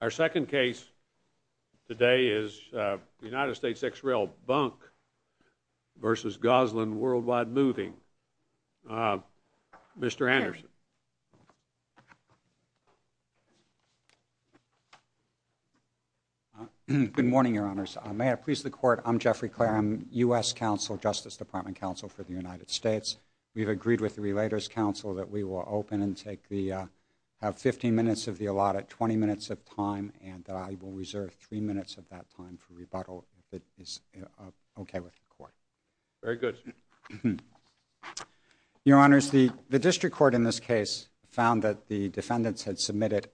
Our second case today is the United States ex rel Bunk v. Gosselin World Wide Moving. Mr. Anderson. Good morning, your honors. May I please the court? I'm Jeffrey Clarem, U.S. counsel, Justice Department counsel for the United States. We've agreed with the Relators Council that we of time and that I will reserve three minutes of that time for rebuttal if it is okay with the court. Very good. Your honors, the district court in this case found that the defendants had submitted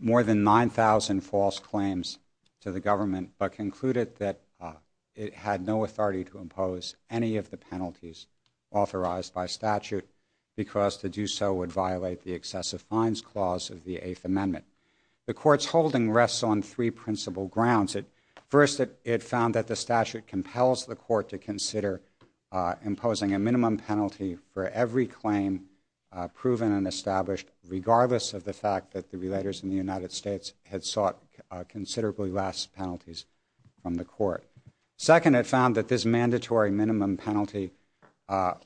more than 9,000 false claims to the government but concluded that it had no authority to impose any of the penalties authorized by statute because to do so would violate the The court's holding rests on three principal grounds. First, it found that the statute compels the court to consider imposing a minimum penalty for every claim proven and established regardless of the fact that the relators in the United States had sought considerably less penalties from the court. Second, it found that this mandatory minimum penalty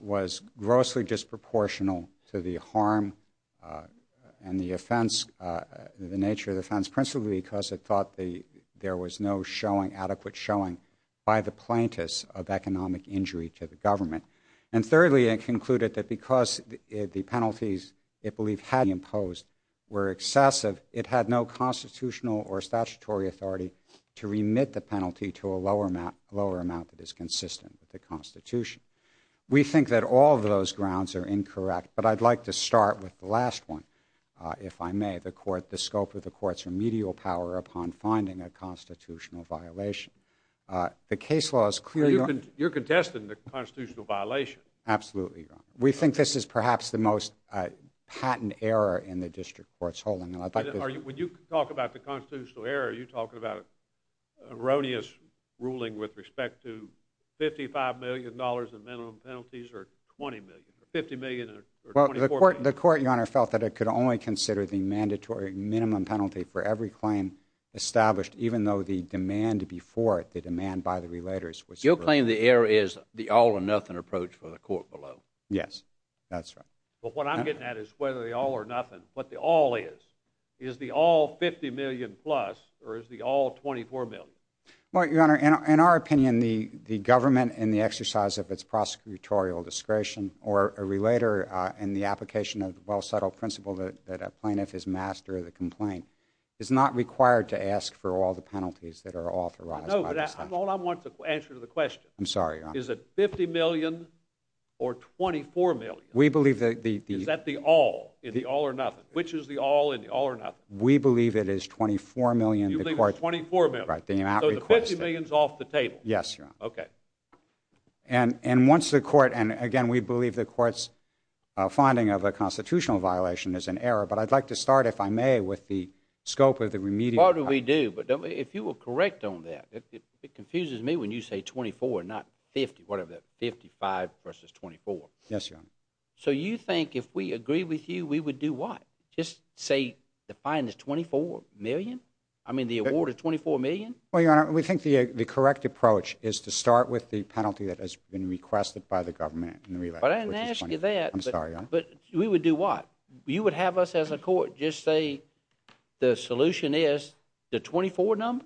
was grossly disproportional to the harm and the nature of the offense principally because it thought there was no adequate showing by the plaintiffs of economic injury to the government. And thirdly, it concluded that because the penalties it believed had been imposed were excessive, it had no constitutional or statutory authority to remit the penalty to a lower amount that is incorrect. But I'd like to start with the last one, if I may. The scope of the court's remedial power upon finding a constitutional violation. The case law is clear. You're contesting the constitutional violation. Absolutely. We think this is perhaps the most patent error in the district court's holding. When you talk about the constitutional error, are you talking about the court? The court, your honor, felt that it could only consider the mandatory minimum penalty for every claim established, even though the demand before it, the demand by the relators was your claim. The error is the all or nothing approach for the court below. Yes, that's right. But what I'm getting at is whether they all or nothing, what the all is, is the all 50 million plus or is the all 24 million? Well, your honor, in our opinion, the government and the exercise of its prosecutorial discretion or a relator in the application of the well settled principle that a plaintiff is master of the complaint is not required to ask for all the penalties that are authorized by the statute. No, but hold on, I want the answer to the question. I'm sorry, your honor. Is it 50 million or 24 million? We believe that the... Is that the all, is the all or nothing? Which is the all and the all or nothing? We believe it is 24 million. You believe it's 24 million? Right, the amount requested. So the 50 million is off the table? Yes, your honor. Okay. And once the court, and again, we believe the court's finding of a constitutional violation is an error, but I'd like to start, if I may, with the scope of the remedial... What do we do? But if you will correct on that, it confuses me when you say 24, not 50, whatever, 55 versus 24. Yes, your honor. So you think if we agree with you, we would do what? Just say the fine is 24 million? I mean, the award is 24 million? Well, your honor, we think the correct approach is to start with the penalty that has been requested by the government. But I didn't ask you that. I'm sorry, your honor. But we would do what? You would have us as a court just say the solution is the 24 number?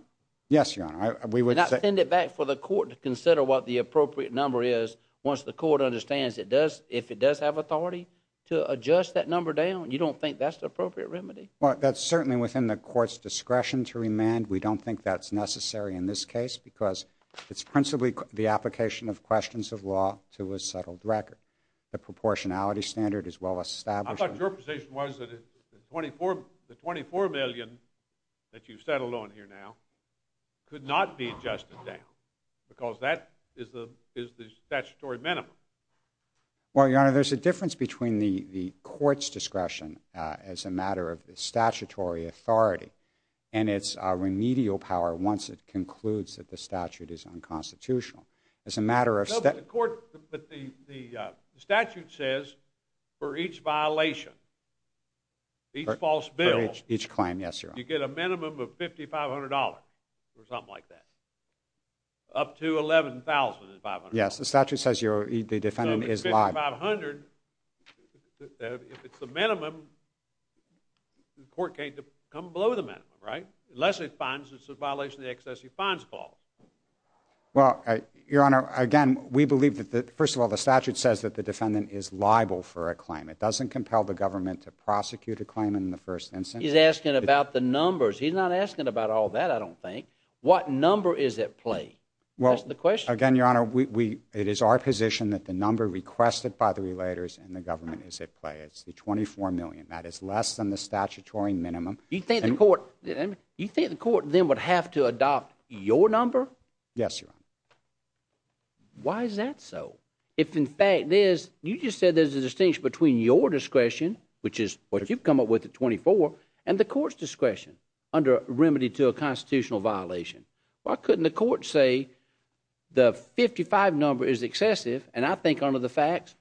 Yes, your honor. We would not send it back for the court to consider what the appropriate number is once the court understands it does, if it does have authority to adjust that number down. You don't think that's the appropriate remedy? Well, that's certainly within the court's discretion to remand. We don't think that's necessary in this case because it's principally the application of questions of law to a settled record. The proportionality standard is well established. I thought your position was that the 24 million that you've settled on here now could not be adjusted down because that is the statutory minimum. Well, your honor, there's a difference between the court's discretion as a matter of statutory authority and its remedial power once it concludes that the statute is unconstitutional. As a matter of... But the statute says for each violation, each false bill... Each claim, yes, your honor. You get a minimum of $5,500 or something like that. Up to $11,000 is $500. Yes, the statute says the defendant is liable. So $5,500, if it's the minimum, the court can't come below the minimum, right? Unless it finds it's a violation of the excessive fines clause. Well, your honor, again, we believe that, first of all, the statute says that the defendant is liable for a claim. It doesn't compel the government to prosecute a claim in the first instance. He's asking about the numbers. He's not asking about all that, I don't think. What number is at play? That's the question. Again, your honor, it is our position that the number requested by the relators and the government is at play. It's the $24 million. That is less than the statutory minimum. You think the court then would have to adopt your number? Yes, your honor. Why is that so? If, in fact, you just said there's a distinction between your discretion, which is what you've come up with at $24,000, and the court's discretion under a remedy to a constitutional violation, why couldn't the court say the $55,000 number is excessive, and I think under the facts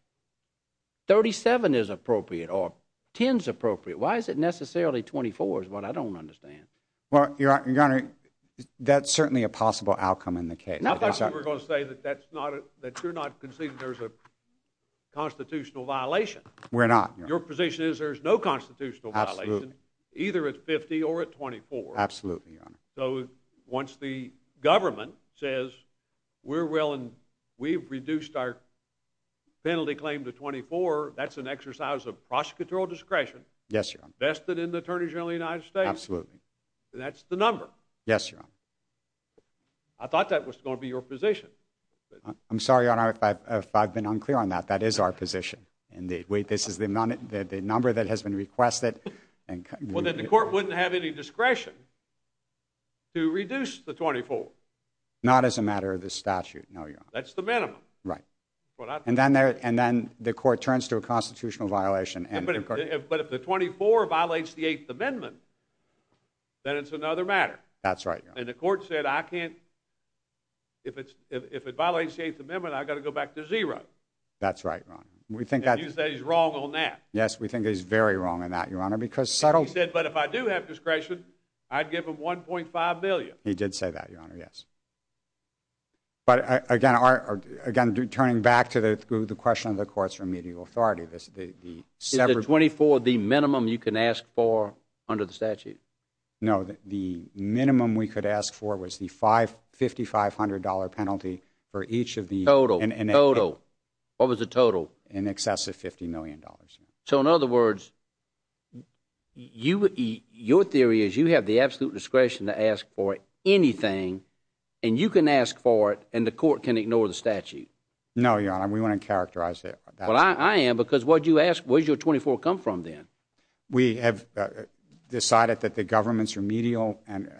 $37,000 is appropriate or $10,000 is appropriate? Why is it necessarily $24,000 is what I don't understand. Well, your honor, that's certainly a possible outcome in the case. I thought you were going to say that you're not conceding there's a constitutional violation. We're not. Your position is there's no constitutional violation, either at $50,000 or at $24,000. Absolutely, your honor. So once the government says we've reduced our penalty claim to $24,000, that's an exercise of prosecutorial discretion vested in the Attorney General of the United States? Absolutely. And that's the number? Yes, your honor. I thought that was going to be your position. I'm sorry, your honor, if I've been unclear on that. That is our position. And wait, this is the number that has been requested. Well, then the court wouldn't have any discretion to reduce the $24,000. Not as a matter of the statute, no, your honor. That's the minimum. Right. And then the court turns to a constitutional violation. But if the $24,000 violates the Eighth Amendment, then it's another matter. That's right, your honor. And the court said, if it violates the Eighth Amendment, I've got to go back to zero. That's right, your honor. And you say he's wrong on that. Yes, we think he's very wrong on that, your honor. He said, but if I do have discretion, I'd give him $1.5 billion. He did say that, your honor, yes. But again, turning back to the question of the court's remedial authority. Is the $24,000 the minimum you can ask for under the statute? No, the minimum we could ask for was the $5,500 penalty for each of the- Total. Total. What was the total? In excess of $50 million. So in other words, your theory is you have the absolute discretion to ask for anything, and you can ask for it, and the court can ignore the statute. No, your honor, we want to characterize it. Well, I am, because what'd you ask? Where's your $24,000 come from then? We have decided that the government's remedial and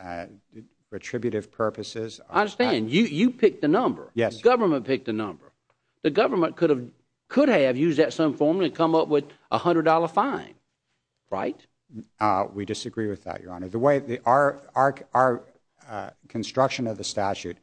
retributive purposes- I understand. You picked the number. Yes. Government picked the number. The government could have used that some form to come up with a $100 fine, right? We disagree with that, your honor. The way our construction of the statute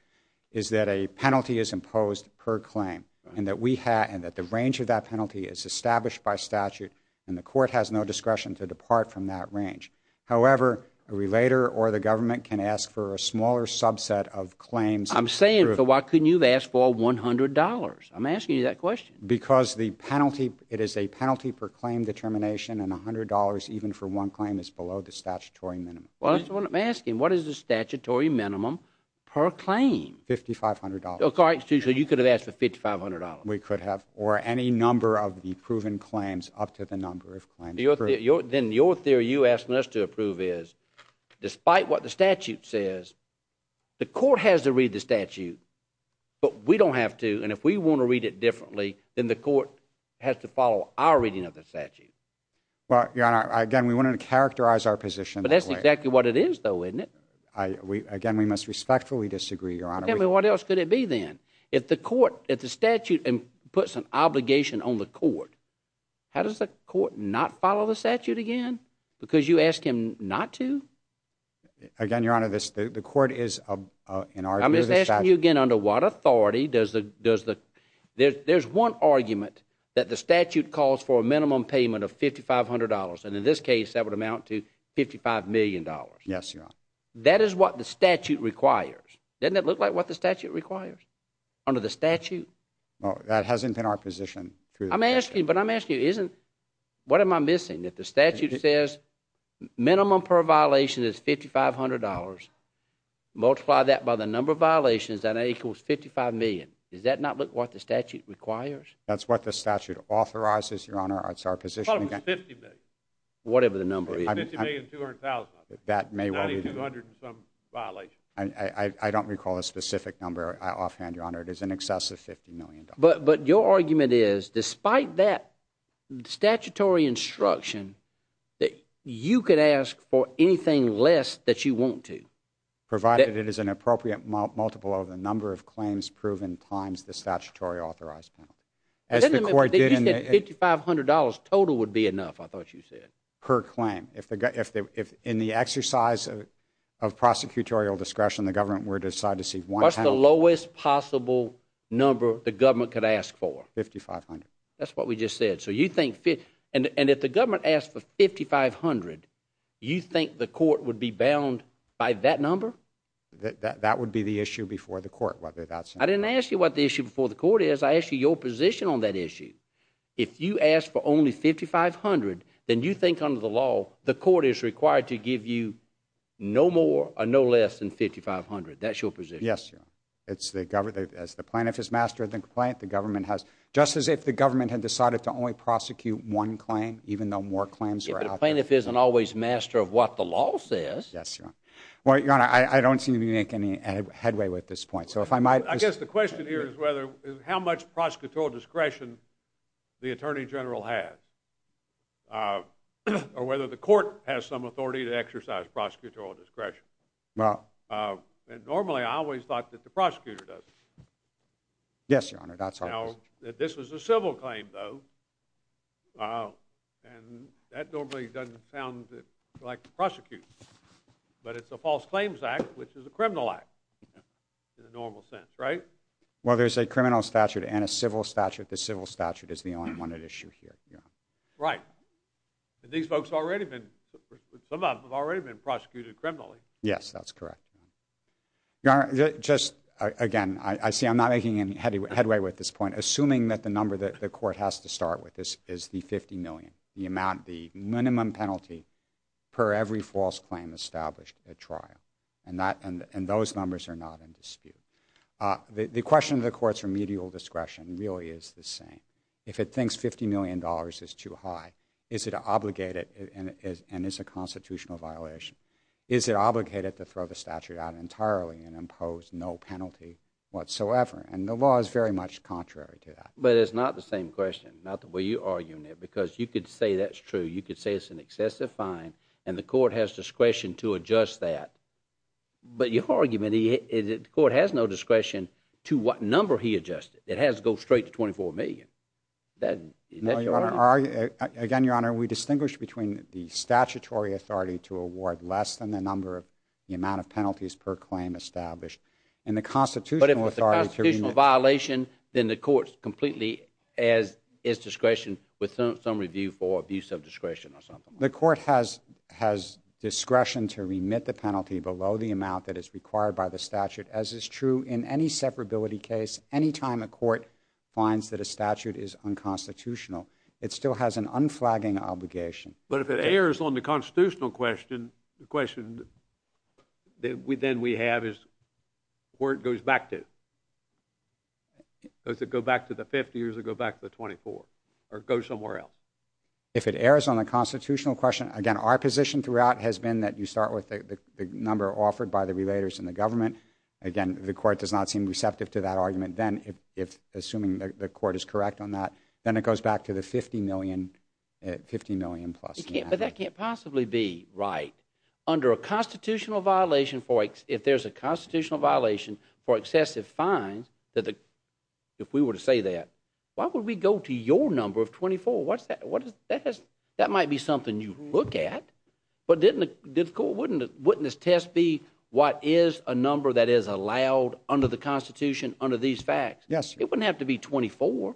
is that a penalty is imposed per claim, and that the range of that penalty is established by statute, and the court has no discretion to depart from that range. However, a relator or the government can ask for a smaller subset of claims- I'm saying, so why couldn't you have asked for $100? I'm asking you that question. Because the penalty, it is a penalty per claim determination, and $100 even for one claim is below the statutory minimum. Well, that's what I'm asking. What is the statutory minimum per claim? $5,500. All right, so you could have asked for $5,500. We could have, or any number of the proven claims up to the number of claims. Then your theory you're asking us to approve is, despite what the statute says, the court has to read the statute. But we don't have to, and if we want to read it differently, then the court has to follow our reading of the statute. Well, your honor, again, we wanted to characterize our position. But that's exactly what it is, though, isn't it? Again, we must respectfully disagree, your honor. Tell me, what else could it be then? If the court, if the statute puts an obligation on the court, how does the court not follow the statute again? Because you ask him not to? Again, your honor, the court is, in our view... I'm just asking you again, under what authority does the... There's one argument that the statute calls for a minimum payment of $5,500. And in this case, that would amount to $55 million. Yes, your honor. That is what the statute requires. Doesn't it look like what the statute requires, under the statute? Well, that hasn't been our position through... I'm asking you, but I'm asking you, isn't... What am I missing? If the statute says minimum per violation is $5,500, multiply that by the number of violations, that equals $55 million. Does that not look like what the statute requires? That's what the statute authorizes, your honor. That's our position. I thought it was $50 million. Whatever the number is. $50 million, $200,000. That may well be... $9,200 and some violations. I don't recall a specific number offhand, your honor. It is in excess of $50 million. But your argument is, despite that statutory instruction, that you could ask for anything less that you want to. Provided it is an appropriate multiple of the number of claims proven times the statutory authorized penalty. As the court did in the... You said $5,500 total would be enough, I thought you said. Per claim. In the exercise of prosecutorial discretion, the government would decide to see one penalty... What's the lowest possible number the government could ask for? $5,500. That's what we just said. So you think... And if the government asks for $5,500, you think the court would be bound by that number? That would be the issue before the court, whether that's... I didn't ask you what the issue before the court is. I asked you your position on that issue. If you ask for only $5,500, then you think under the law, the court is required to give you no more or no less than $5,500. That's your position. It's the government... As the plaintiff has mastered the complaint, the government has... Just as if the government had decided to only prosecute one claim, even though more claims are out there... If the plaintiff isn't always master of what the law says... Yes, Your Honor. Well, Your Honor, I don't seem to be making any headway with this point. So if I might... I guess the question here is whether... How much prosecutorial discretion the Attorney General has, or whether the court has some authority to exercise prosecutorial discretion. Well... And normally, I always thought that the prosecutor does. Yes, Your Honor, that's always... Now, this was a civil claim, though. And that normally doesn't sound like prosecute. But it's a False Claims Act, which is a criminal act in a normal sense, right? Well, there's a criminal statute and a civil statute. The civil statute is the only one at issue here, Your Honor. Right. And these folks have already been... Some of them have already been prosecuted criminally. Yes, that's correct. Your Honor, just... Again, I see I'm not making any headway with this point. Assuming that the number that the court has to start with is the $50 million. The amount... The minimum penalty per every false claim established at trial. And those numbers are not in dispute. The question of the court's remedial discretion really is the same. If it thinks $50 million is too high, is it obligated and is a constitutional violation? Is it obligated to throw the statute out entirely and impose no penalty whatsoever? And the law is very much contrary to that. But it's not the same question. Not the way you're arguing it. Because you could say that's true. You could say it's an excessive fine and the court has discretion to adjust that. But your argument is that the court has no discretion to what number he adjusted. It has to go straight to $24 million. That... Again, Your Honor, we distinguish between the statutory authority to award less than the number of... The amount of penalties per claim established. And the constitutional authority... But if it's a constitutional violation, then the court's completely at its discretion with some review for abuse of discretion or something. The court has discretion to remit the penalty below the amount that is required by the statute. As is true in any separability case. Any time a court finds that a statute is unconstitutional, it still has an unflagging obligation. But if it errs on the constitutional question, the question then we have is where it goes back to? Does it go back to the 50 or does it go back to the 24? Or go somewhere else? If it errs on the constitutional question, again, our position throughout has been that you start with the number offered by the relators in the government. Again, the court does not seem receptive to that argument. Then, assuming the court is correct on that, then it goes back to the 50 million plus. But that can't possibly be right. Under a constitutional violation for... If there's a constitutional violation for excessive fines, if we were to say that, why would we go to your number of 24? That might be something you look at. But wouldn't this test be what is a number that is allowed under the Constitution under these facts? Yes. It wouldn't have to be 24.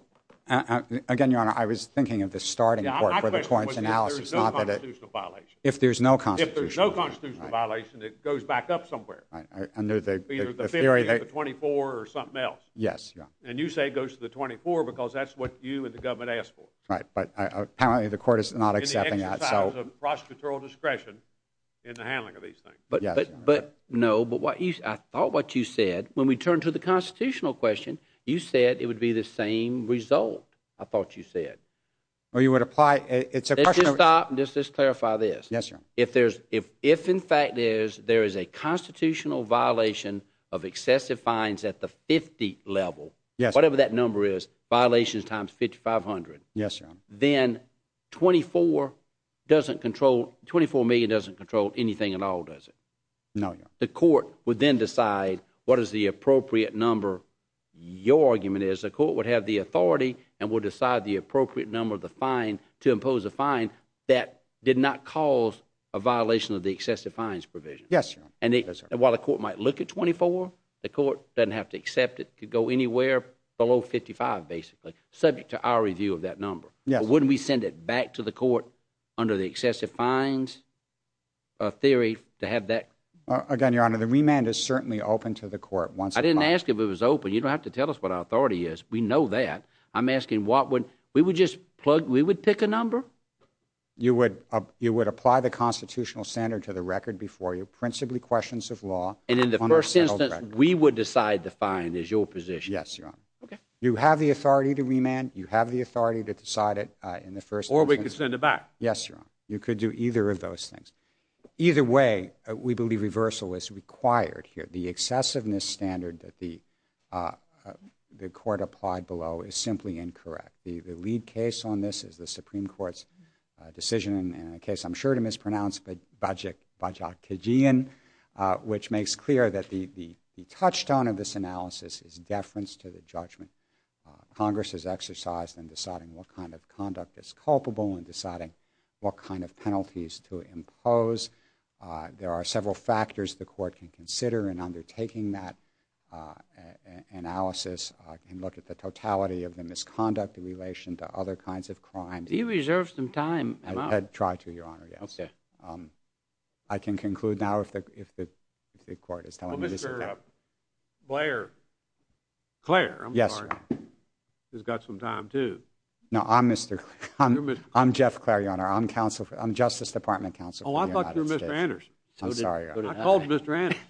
Again, Your Honor, I was thinking of the starting point for the torrential analysis. Yeah, my question was if there's no constitutional violation. If there's no constitutional violation. If there's no constitutional violation, it goes back up somewhere. Right, under the theory that... Either the 50 or the 24 or something else. Yes, yeah. And you say it goes to the 24 because that's what you and the government asked for. Right, but apparently the court is not accepting that. Prosecutorial discretion in the handling of these things. But no, but I thought what you said, when we turned to the constitutional question, you said it would be the same result. I thought you said. Or you would apply... Just to clarify this. Yes, Your Honor. If in fact there is a constitutional violation of excessive fines at the 50 level, whatever that number is, violations times 5,500. Yes, Your Honor. Then 24 doesn't control... 24 million doesn't control anything at all, does it? No, Your Honor. The court would then decide what is the appropriate number. Your argument is the court would have the authority and would decide the appropriate number of the fine to impose a fine that did not cause a violation of the excessive fines provision. Yes, Your Honor. And while the court might look at 24, the court doesn't have to accept it. It could go anywhere below 55, basically, subject to our review of that number. Wouldn't we send it back to the court under the excessive fines theory to have that... Again, Your Honor, the remand is certainly open to the court once... I didn't ask if it was open. You don't have to tell us what our authority is. We know that. I'm asking what would... We would just plug... We would pick a number? You would apply the constitutional standard to the record before you, principally questions of law. And in the first instance, we would decide the fine is your position. Yes, Your Honor. Okay. You have the authority to remand. You have the authority to decide it in the first instance. Or we could send it back. Yes, Your Honor. You could do either of those things. Either way, we believe reversal is required here. The excessiveness standard that the court applied below is simply incorrect. The lead case on this is the Supreme Court's decision in a case I'm sure to mispronounce, but Bajaj Tejian, which makes clear that the touchstone of this analysis is deference to judgment. Congress has exercised in deciding what kind of conduct is culpable and deciding what kind of penalties to impose. There are several factors the court can consider in undertaking that analysis. I can look at the totality of the misconduct in relation to other kinds of crimes. Do you reserve some time, Your Honor? Try to, Your Honor, yes. Okay. I can conclude now if the court is telling me this is correct. Blair. Clare, I'm sorry, has got some time too. No, I'm Mr. I'm Jeff Clare, Your Honor. I'm counsel, I'm Justice Department counsel. Oh, I thought you were Mr. Anderson. I'm sorry, Your Honor. I called Mr. Anderson.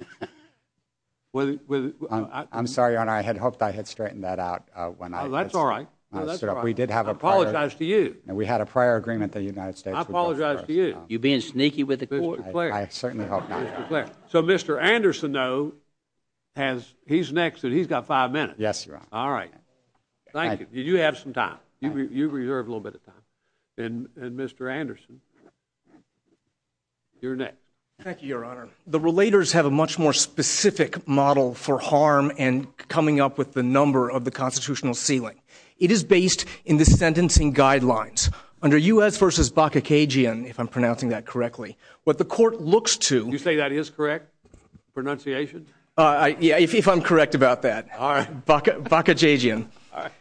I'm sorry, Your Honor. I had hoped I had straightened that out when I... That's all right. We did have a prior... I apologize to you. We had a prior agreement the United States... I apologize to you. You're being sneaky with the court, Clare. I certainly hope not. So Mr. Anderson, though, has... He's next and he's got five minutes. Yes, Your Honor. All right. Thank you. You have some time. You reserve a little bit of time. And Mr. Anderson, you're next. Thank you, Your Honor. The relators have a much more specific model for harm and coming up with the number of the constitutional ceiling. It is based in the sentencing guidelines. Under U.S. v. Bakakegian, if I'm pronouncing that correctly, what the court looks to... You say that is correct pronunciation? Yeah, if I'm correct about that. All right. Bakakegian. All right.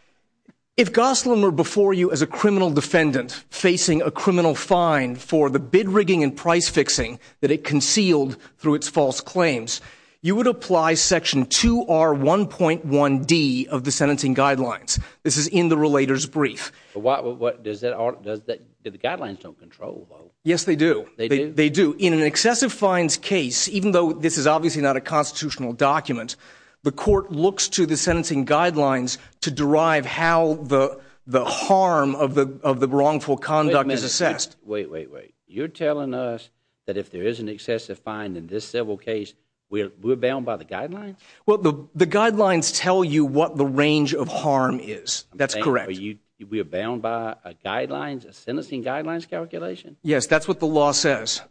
If Gosling were before you as a criminal defendant facing a criminal fine for the bid rigging and price fixing that it concealed through its false claims, you would apply section 2R1.1D of the sentencing guidelines. This is in the relator's brief. Does that... The guidelines don't control, though. Yes, they do. They do. In an excessive fines case, even though this is obviously not a constitutional document, the court looks to the sentencing guidelines to derive how the harm of the wrongful conduct is assessed. Wait, wait, wait. You're telling us that if there is an excessive fine in this civil case, we're bound by the guidelines? Well, the guidelines tell you what the range of harm is. That's correct. We're bound by guidelines, a sentencing guidelines calculation? Yes, that's what the law says.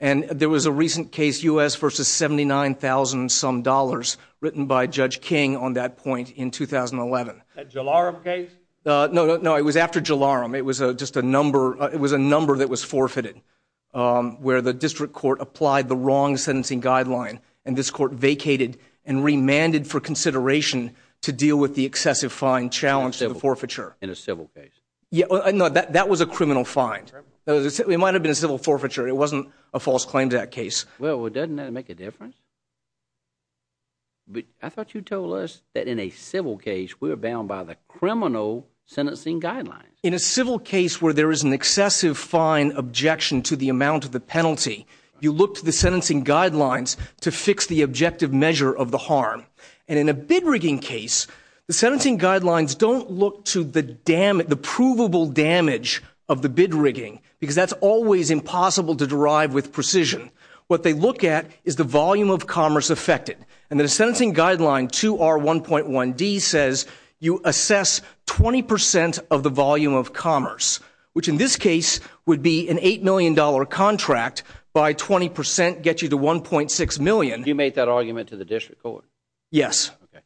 And there was a recent case, U.S. versus 79,000-some dollars, written by Judge King on that point in 2011. That Jalarum case? No, no, no. It was after Jalarum. It was just a number... It was a number that was forfeited, where the district court applied the wrong sentencing guideline, and this court vacated and remanded for consideration to deal with the excessive fine challenge to the forfeiture. In a civil case? Yeah. No, that was a criminal fine. It might have been a civil forfeiture. It wasn't a false claims act case. Well, doesn't that make a difference? I thought you told us that in a civil case, we're bound by the criminal sentencing guidelines? In a civil case where there is an excessive fine objection to the amount of the penalty, you look to the sentencing guidelines to fix the objective measure of the harm. And in a bid rigging case, the sentencing guidelines don't look to the provable damage of the bid rigging, because that's always impossible to derive with precision. What they look at is the volume of commerce affected. And the sentencing guideline 2R1.1D says you assess 20% of the volume of commerce, which in this case would be an $8 million contract. By 20%, get you to $1.6 million. You made that argument to the district court? Yes. Okay.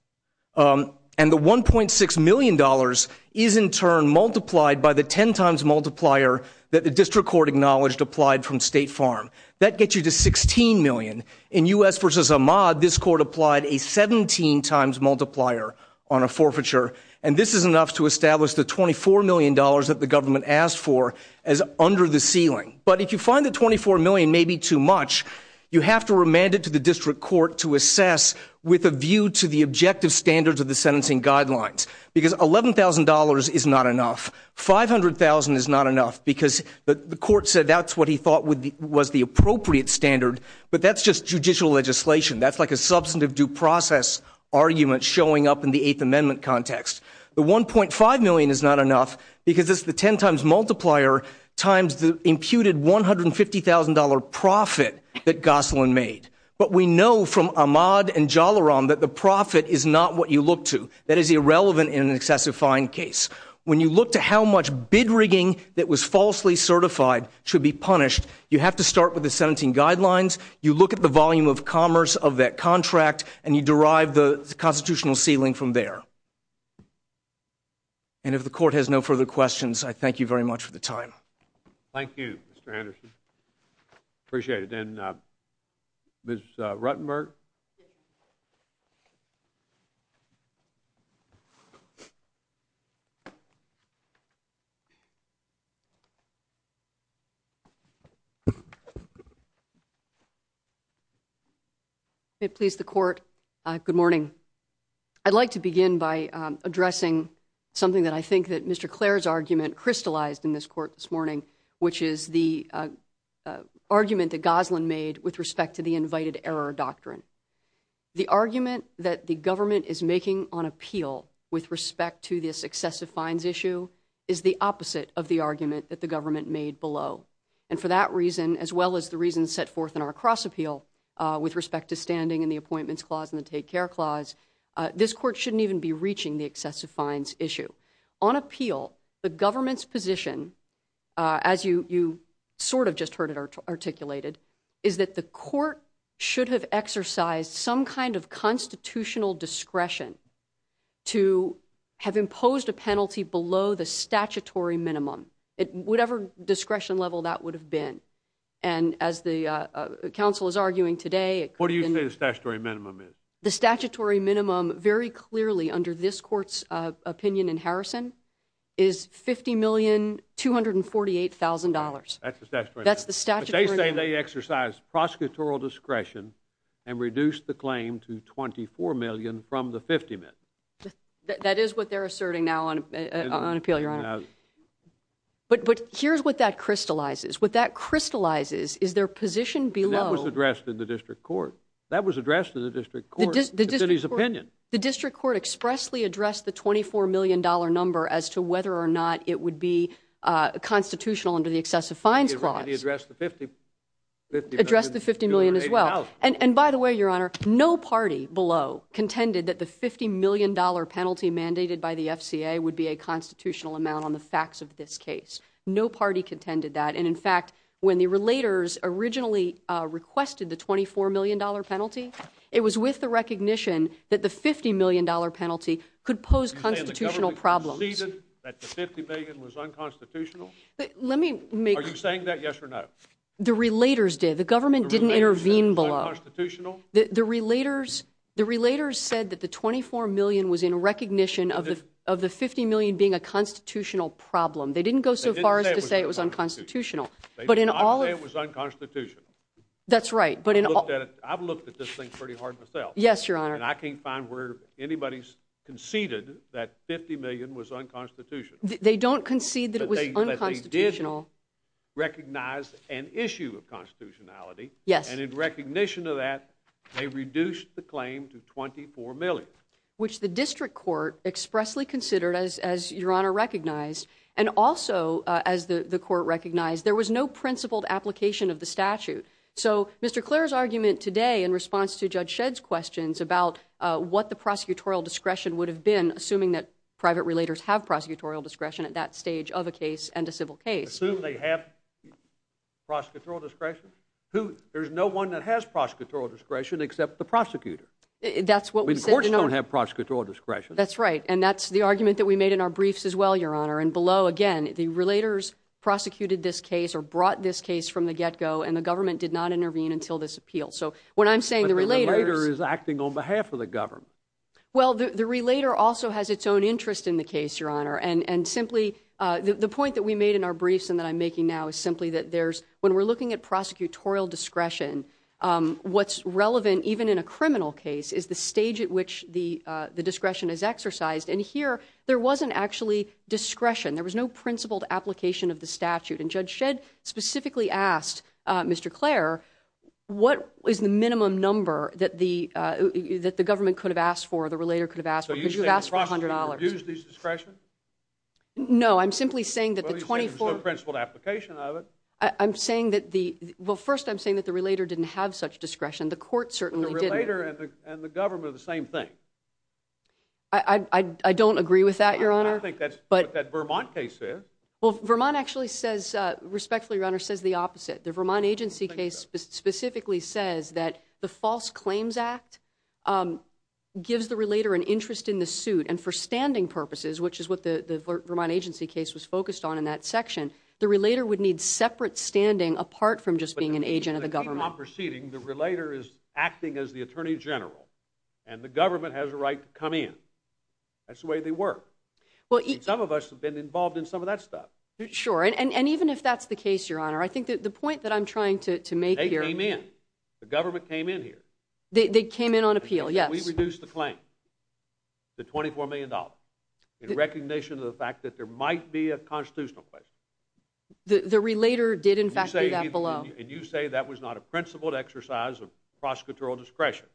And the $1.6 million is in turn multiplied by the 10 times multiplier that the district court acknowledged applied from State Farm. That gets you to $16 million. In U.S. versus Ahmad, this court applied a 17 times multiplier on a forfeiture. And this is enough to establish the $24 million that the government asked for as under the ceiling. But if you find that $24 million may be too much, you have to remand it to the district court to assess with a view to the objective standards of the sentencing guidelines. Because $11,000 is not enough. $500,000 is not enough, because the court said that's what he thought was the appropriate standard. But that's just judicial legislation. That's like a substantive due process argument showing up in the Eighth Amendment context. The $1.5 million is not enough, because it's the 10 times multiplier times the imputed $150,000 profit that Gosselin made. But we know from Ahmad and Jalaram that the profit is not what you look to. That is irrelevant in an excessive fine case. When you look to how much bid rigging that was falsely certified should be punished, you have to start with the sentencing guidelines. You look at the volume of commerce of that contract, and you derive the constitutional ceiling from there. And if the court has no further questions, I thank you very much for the time. Thank you, Mr. Henderson. Appreciate it. And Ms. Rutenberg? May it please the court, good morning. I'd like to begin by addressing something that I think that Mr. Clare's argument crystallized in this court this morning, which is the argument that Gosselin made with respect to the invited error doctrine. The argument that the government is making on appeal with respect to this excessive fines issue is the opposite of the argument that the government made below. And for that reason, as well as the reasons set forth in our cross-appeal with respect to standing and the appointments clause and the take care clause, this court shouldn't even be reaching the excessive fines issue. On appeal, the government's position, as you sort of just heard it articulated, is that the court should have exercised some kind of constitutional discretion to have imposed a penalty below the statutory minimum, whatever discretion level that would have been. And as the counsel is arguing today— What do you say the statutory minimum is? The statutory minimum, very clearly under this court's opinion in Harrison, is $50,248,000. That's the statutory minimum. That's the statutory minimum. But they say they exercised prosecutorial discretion and reduced the claim to $24 million from the 50 million. That is what they're asserting now on appeal, Your Honor. But here's what that crystallizes. What that crystallizes is their position below— And that was addressed in the district court. That was addressed in the district court, the city's opinion. The district court expressly addressed the $24 million number as to whether or not it would be constitutional under the excessive fines clause. It addressed the $50 million as well. And by the way, Your Honor, no party below contended that the $50 million penalty mandated by the FCA would be a constitutional amount on the facts of this case. No party contended that. In fact, when the relators originally requested the $24 million penalty, it was with the recognition that the $50 million penalty could pose constitutional problems. You're saying the government conceded that the $50 million was unconstitutional? Let me make— Are you saying that yes or no? The relators did. The government didn't intervene below. The relators said it was unconstitutional? The relators said that the $24 million was in recognition of the $50 million being a constitutional problem. They didn't go so far as to say it was unconstitutional. They did not say it was unconstitutional. That's right. I've looked at this thing pretty hard myself. Yes, Your Honor. And I can't find where anybody's conceded that $50 million was unconstitutional. They don't concede that it was unconstitutional. But they did recognize an issue of constitutionality. Yes. And in recognition of that, they reduced the claim to $24 million. Which the district court expressly considered, as Your Honor recognized, and also, as the court recognized, there was no principled application of the statute. So Mr. Clair's argument today in response to Judge Shedd's questions about what the prosecutorial discretion would have been, assuming that private relators have prosecutorial discretion at that stage of a case and a civil case— Assume they have prosecutorial discretion? Who— There's no one that has prosecutorial discretion except the prosecutor. That's what we said, Your Honor. Courts don't have prosecutorial discretion. That's right. And that's the argument that we made in our briefs as well, Your Honor. And below, again, the relators prosecuted this case or brought this case from the get-go, and the government did not intervene until this appeal. So what I'm saying— But the relator is acting on behalf of the government. Well, the relator also has its own interest in the case, Your Honor. And simply, the point that we made in our briefs and that I'm making now is simply that there's— when we're looking at prosecutorial discretion, what's relevant even in a criminal case is the stage at which the discretion is exercised. And here, there wasn't actually discretion. There was no principled application of the statute. And Judge Shedd specifically asked Mr. Clare, what is the minimum number that the government could have asked for, the relator could have asked for, because you've asked for $100. So you're saying the prosecutor abused his discretion? No, I'm simply saying that the 24— Well, you said there's no principled application of it. I'm saying that the— Well, first, I'm saying that the relator didn't have such discretion. The court certainly didn't. The relator and the government are the same thing. I don't agree with that, Your Honor. I don't think that's what that Vermont case says. Well, Vermont actually says— respectfully, Your Honor, says the opposite. The Vermont agency case specifically says that the False Claims Act gives the relator an interest in the suit, and for standing purposes, which is what the Vermont agency case was focused on in that section, the relator would need separate standing apart from just being an agent of the government. But in the case of the Vermont proceeding, the relator is acting as the attorney general, and the government has a right to come in. That's the way they work. Some of us have been involved in some of that stuff. Sure, and even if that's the case, Your Honor, I think that the point that I'm trying to make here— They came in. The government came in here. They came in on appeal, yes. We reduced the claim to $24 million, in recognition of the fact that there might be a constitutional question. The relator did, in fact, do that below. And you say that was not a principled exercise of prosecutorial discretion.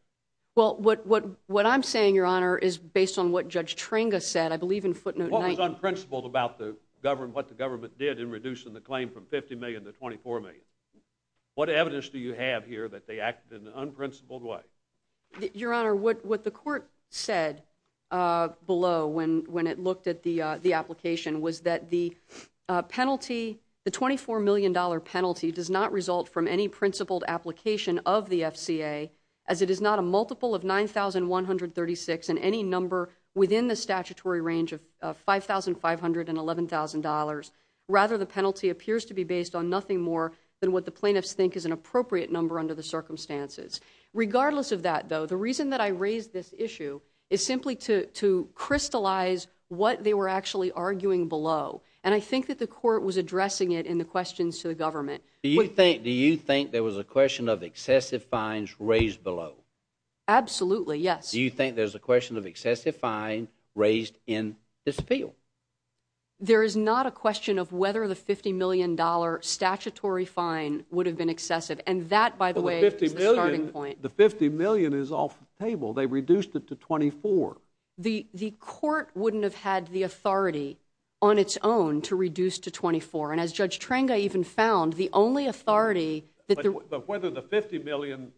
Well, what I'm saying, Your Honor, is based on what Judge Tringa said, I believe in footnote 9— What was unprincipled about what the government did in reducing the claim from $50 million to $24 million? What evidence do you have here that they acted in an unprincipled way? Your Honor, what the court said below when it looked at the application was that the penalty, the $24 million penalty, does not result from any principled application of the FCA, as it is not a multiple of $9,136 and any number within the statutory range of $5,500 and $11,000. Rather, the penalty appears to be based on nothing more than what the plaintiffs think is an appropriate number under the circumstances. Regardless of that, though, the reason that I raised this issue is simply to crystallize what they were actually arguing below. And I think that the court was addressing it in the questions to the government. Do you think there was a question of excessive fines raised below? Absolutely, yes. Do you think there's a question of excessive fines raised in this appeal? There is not a question of whether the $50 million statutory fine would have been excessive. And that, by the way, is the starting point. The $50 million is off the table. They reduced it to $24 million. The court wouldn't have had the authority on its own to reduce to $24 million. And as But whether the $50 million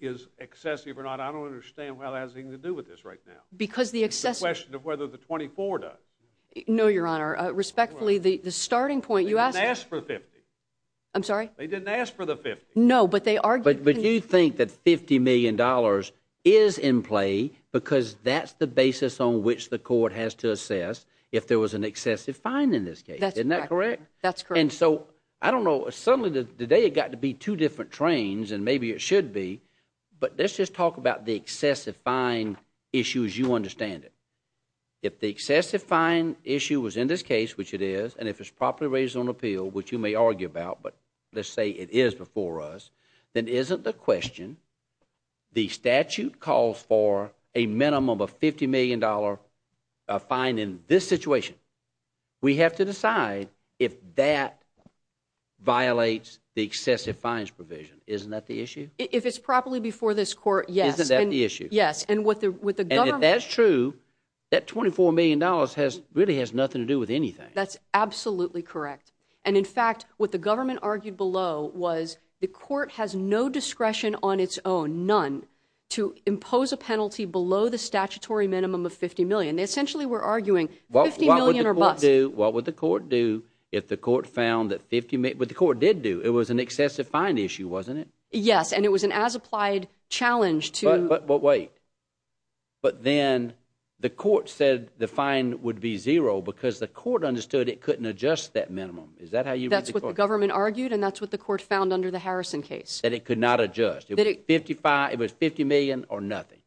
is excessive or not, I don't understand why that has anything to do with this right now. Because the excessive It's a question of whether the $24 million does. No, Your Honor. Respectfully, the starting point, you asked They didn't ask for $50 million. I'm sorry? They didn't ask for the $50 million. No, but they argued But you think that $50 million is in play because that's the basis on which the court has to assess if there was an excessive fine in this case. Isn't that correct? That's correct. I don't know. Suddenly today it got to be two different trains, and maybe it should be. But let's just talk about the excessive fine issue as you understand it. If the excessive fine issue was in this case, which it is, and if it's properly raised on appeal, which you may argue about, but let's say it is before us, then isn't the question the statute calls for a minimum of a $50 million fine in this situation. We have to decide if that violates the excessive fines provision. Isn't that the issue? If it's properly before this court, yes. Isn't that the issue? Yes, and with the government And if that's true, that $24 million really has nothing to do with anything. That's absolutely correct. And in fact, what the government argued below was the court has no discretion on its own, none, to impose a penalty below the statutory minimum of $50 million. They essentially were arguing $50 million or less. What would the court do if the court found that $50 million, what the court did do, it was an excessive fine issue, wasn't it? Yes, and it was an as-applied challenge to But wait, but then the court said the fine would be zero because the court understood it couldn't adjust that minimum. Is that how you read the court? That's what the government argued, and that's what the court found under the Harrison case. That it could not adjust. It was $50 million or nothing.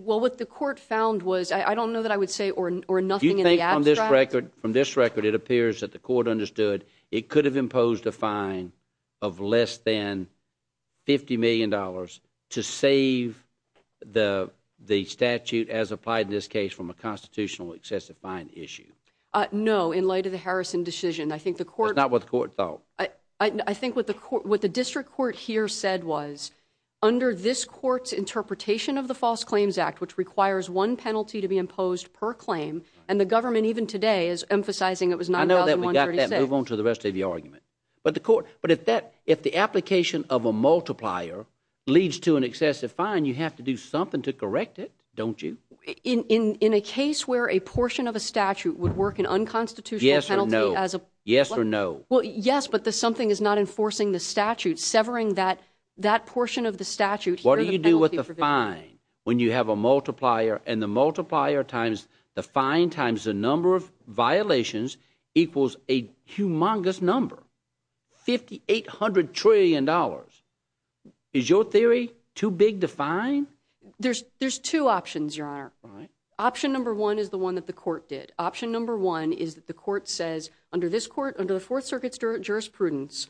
Well, what the court found was, I don't know that I would say or nothing in the abstract. Do you think from this record, it appears that the court understood it could have imposed a fine of less than $50 million to save the statute, as applied in this case, from a constitutional excessive fine issue? No, in light of the Harrison decision, I think the court That's not what the court thought. I think what the district court here said was, under this court's interpretation of the False Claims Act, which requires one penalty to be imposed per claim, and the government, even today, is emphasizing it was $9,136. I know that we got that. Move on to the rest of your argument. But if the application of a multiplier leads to an excessive fine, you have to do something to correct it, don't you? In a case where a portion of a statute would work an unconstitutional penalty as a Yes or no. Well, yes, but the something is not enforcing the statute, severing that portion of the statute. What do you do with the fine when you have a multiplier? And the multiplier times the fine times the number of violations equals a humongous number, $5,800 trillion. Is your theory too big to fine? There's two options, Your Honor. Right. Option number one is the one that the court did. Option number one is that the court says, under this court, under the Fourth Circuit's jurisprudence,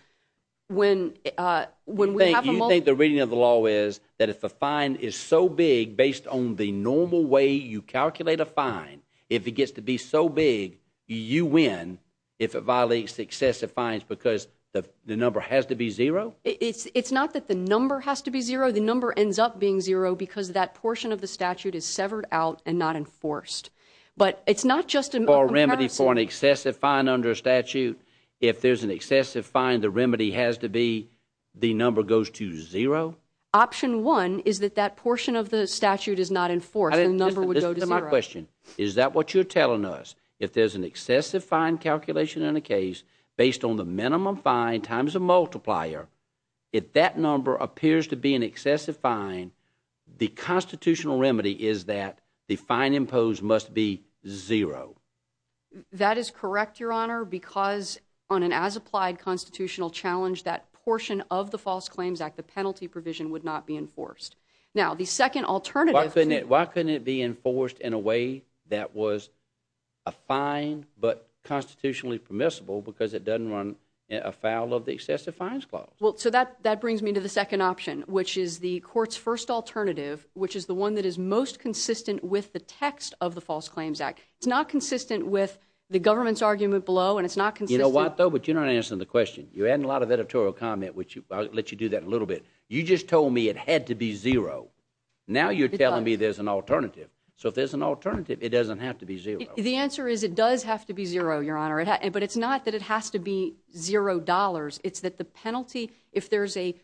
when we have a multiplier. You think the reading of the law is that if the fine is so big, based on the normal way you calculate a fine, if it gets to be so big, you win if it violates excessive fines because the number has to be zero? It's not that the number has to be zero. The number ends up being zero because that portion of the statute is severed out and not enforced. But it's not just a comparison. Or a remedy for an excessive fine under a statute. If there's an excessive fine, the remedy has to be the number goes to zero? Option one is that that portion of the statute is not enforced. The number would go to zero. My question, is that what you're telling us? If there's an excessive fine calculation in a case, based on the minimum fine times a multiplier, if that number appears to be an excessive fine, the constitutional remedy is that the fine imposed must be zero. That is correct, Your Honor. Because on an as-applied constitutional challenge, that portion of the False Claims Act, the penalty provision would not be enforced. Now, the second alternative... Why couldn't it be enforced in a way that was a fine but constitutionally permissible because it doesn't run afoul of the excessive fines clause? Well, so that brings me to the second option, which is the court's first alternative, which is the one that is most consistent with the text of the False Claims Act. It's not consistent with the government's argument below, and it's not consistent... You know what, though? But you're not answering the question. You're adding a lot of editorial comment, which I'll let you do that in a little bit. You just told me it had to be zero. Now you're telling me there's an alternative. So if there's an alternative, it doesn't have to be zero. The answer is it does have to be zero, Your Honor. But it's not that it has to be zero dollars. It's that the penalty, if there's a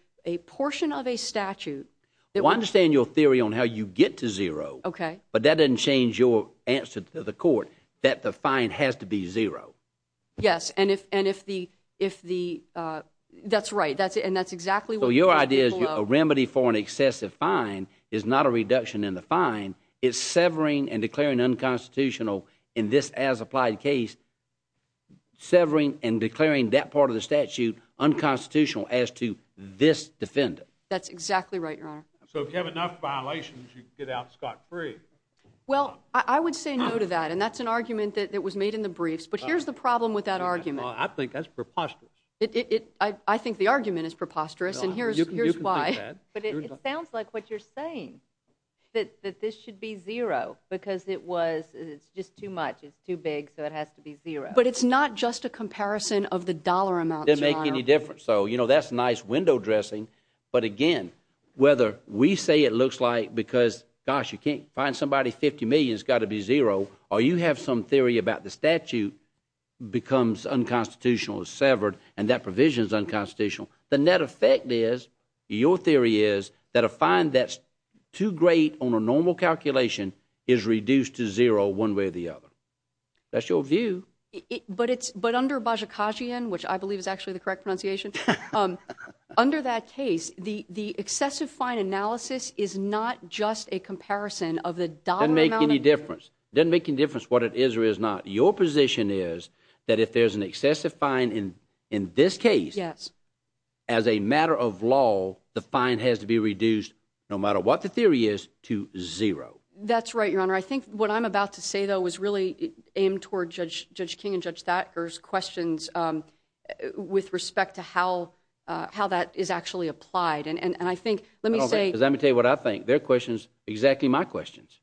portion of a statute... Well, I understand your theory on how you get to zero. Okay. But that doesn't change your answer to the court, that the fine has to be zero. Yes, and if the... That's right, and that's exactly what... So your idea is a remedy for an excessive fine is not a reduction in the fine. It's severing and declaring unconstitutional in this as-applied case, severing and declaring that part of the statute unconstitutional as to this defendant. That's exactly right, Your Honor. So if you have enough violations, you can get out scot-free. Well, I would say no to that, and that's an argument that was made in the briefs. But here's the problem with that argument. I think that's preposterous. I think the argument is preposterous, and here's why. But it sounds like what you're saying, that this should be zero, because it's just too much, it's too big, so it has to be zero. But it's not just a comparison of the dollar amount, Your Honor. It doesn't make any difference. So, you know, that's nice window dressing. But again, whether we say it looks like because, gosh, you can't find somebody 50 million, it's got to be zero, or you have some theory about the statute becomes unconstitutional, is severed, and that provision is unconstitutional. The net effect is, your theory is, that a fine that's too great on a normal calculation is reduced to zero one way or the other. That's your view. But it's, but under Bajikashian, which I believe is actually the correct pronunciation, under that case, the excessive fine analysis is not just a comparison of the dollar amount. Doesn't make any difference. Doesn't make any difference what it is or is not. Your position is that if there's an excessive fine in this case, as a matter of law, the fine has to be reduced, no matter what the theory is, to zero. That's right, Your Honor. I think what I'm about to say, though, was really aimed toward Judge King and Judge Thacker's questions with respect to how that is actually applied. And I think, let me say. Because let me tell you what I think. Their questions, exactly my questions.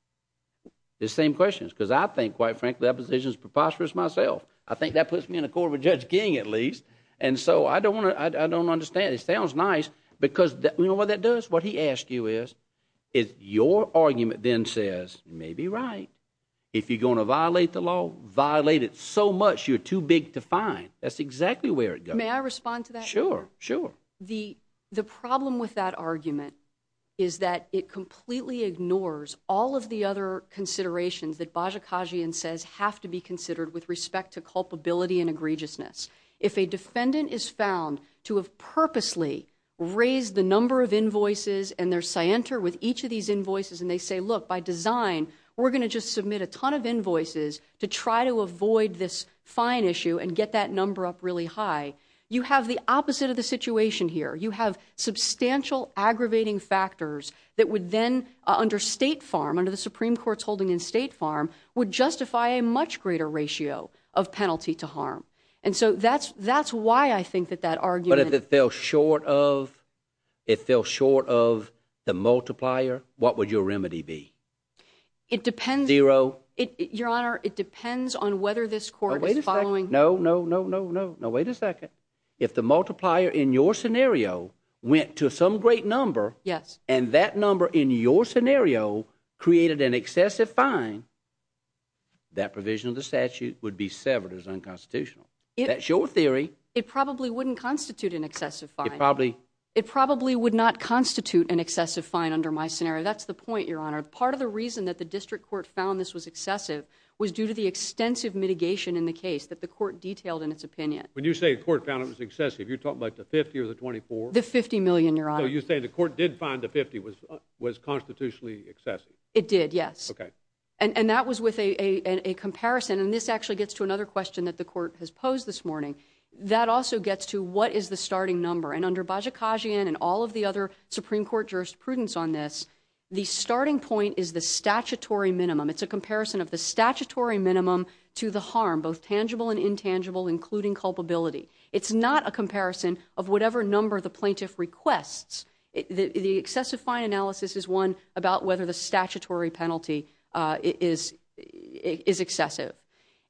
The same questions. Because I think, quite frankly, that position is preposterous myself. I think that puts me in accord with Judge King, at least. And so I don't want to, I don't understand. It sounds nice, because you know what that does? What he asks you is, your argument then says, you may be right. If you're going to violate the law, violate it so much, you're too big to fine. That's exactly where it goes. May I respond to that? Sure, sure. The problem with that argument is that it completely ignores all of the other considerations that Bajikagian says have to be considered with respect to culpability and egregiousness. If a defendant is found to have purposely raised the number of invoices, and they're scienter with each of these invoices, and they say, look, by design, we're going to just submit a ton of invoices to try to avoid this fine issue and get that number up really high. You have the opposite of the situation here. You have substantial aggravating factors that would then, under State Farm, under the Supreme Court's holding in State Farm, would justify a much greater ratio of penalty to harm. And so that's why I think that that argument— But if it fell short of the multiplier, what would your remedy be? It depends— Zero? Your Honor, it depends on whether this court is following— No, no, no, no, no. Wait a second. If the multiplier in your scenario went to some great number, and that number in your scenario created an excessive fine, that provision of the statute would be severed as unconstitutional. That's your theory. It probably wouldn't constitute an excessive fine. It probably— It probably would not constitute an excessive fine under my scenario. That's the point, Your Honor. Part of the reason that the district court found this was excessive was due to the extensive mitigation in the case that the court detailed in its opinion. When you say the court found it was excessive, you're talking about the 50 or the 24? The 50 million, Your Honor. So you're saying the court did find the 50 was constitutionally excessive? It did, yes. Okay. And that was with a comparison. And this actually gets to another question that the court has posed this morning. That also gets to what is the starting number. And under Bajikagian and all of the other Supreme Court jurisprudence on this, the starting point is the statutory minimum. It's a comparison of the statutory minimum to the harm, both tangible and intangible, including culpability. It's not a comparison of whatever number the plaintiff requests. The excessive fine analysis is one about whether the statutory penalty is excessive.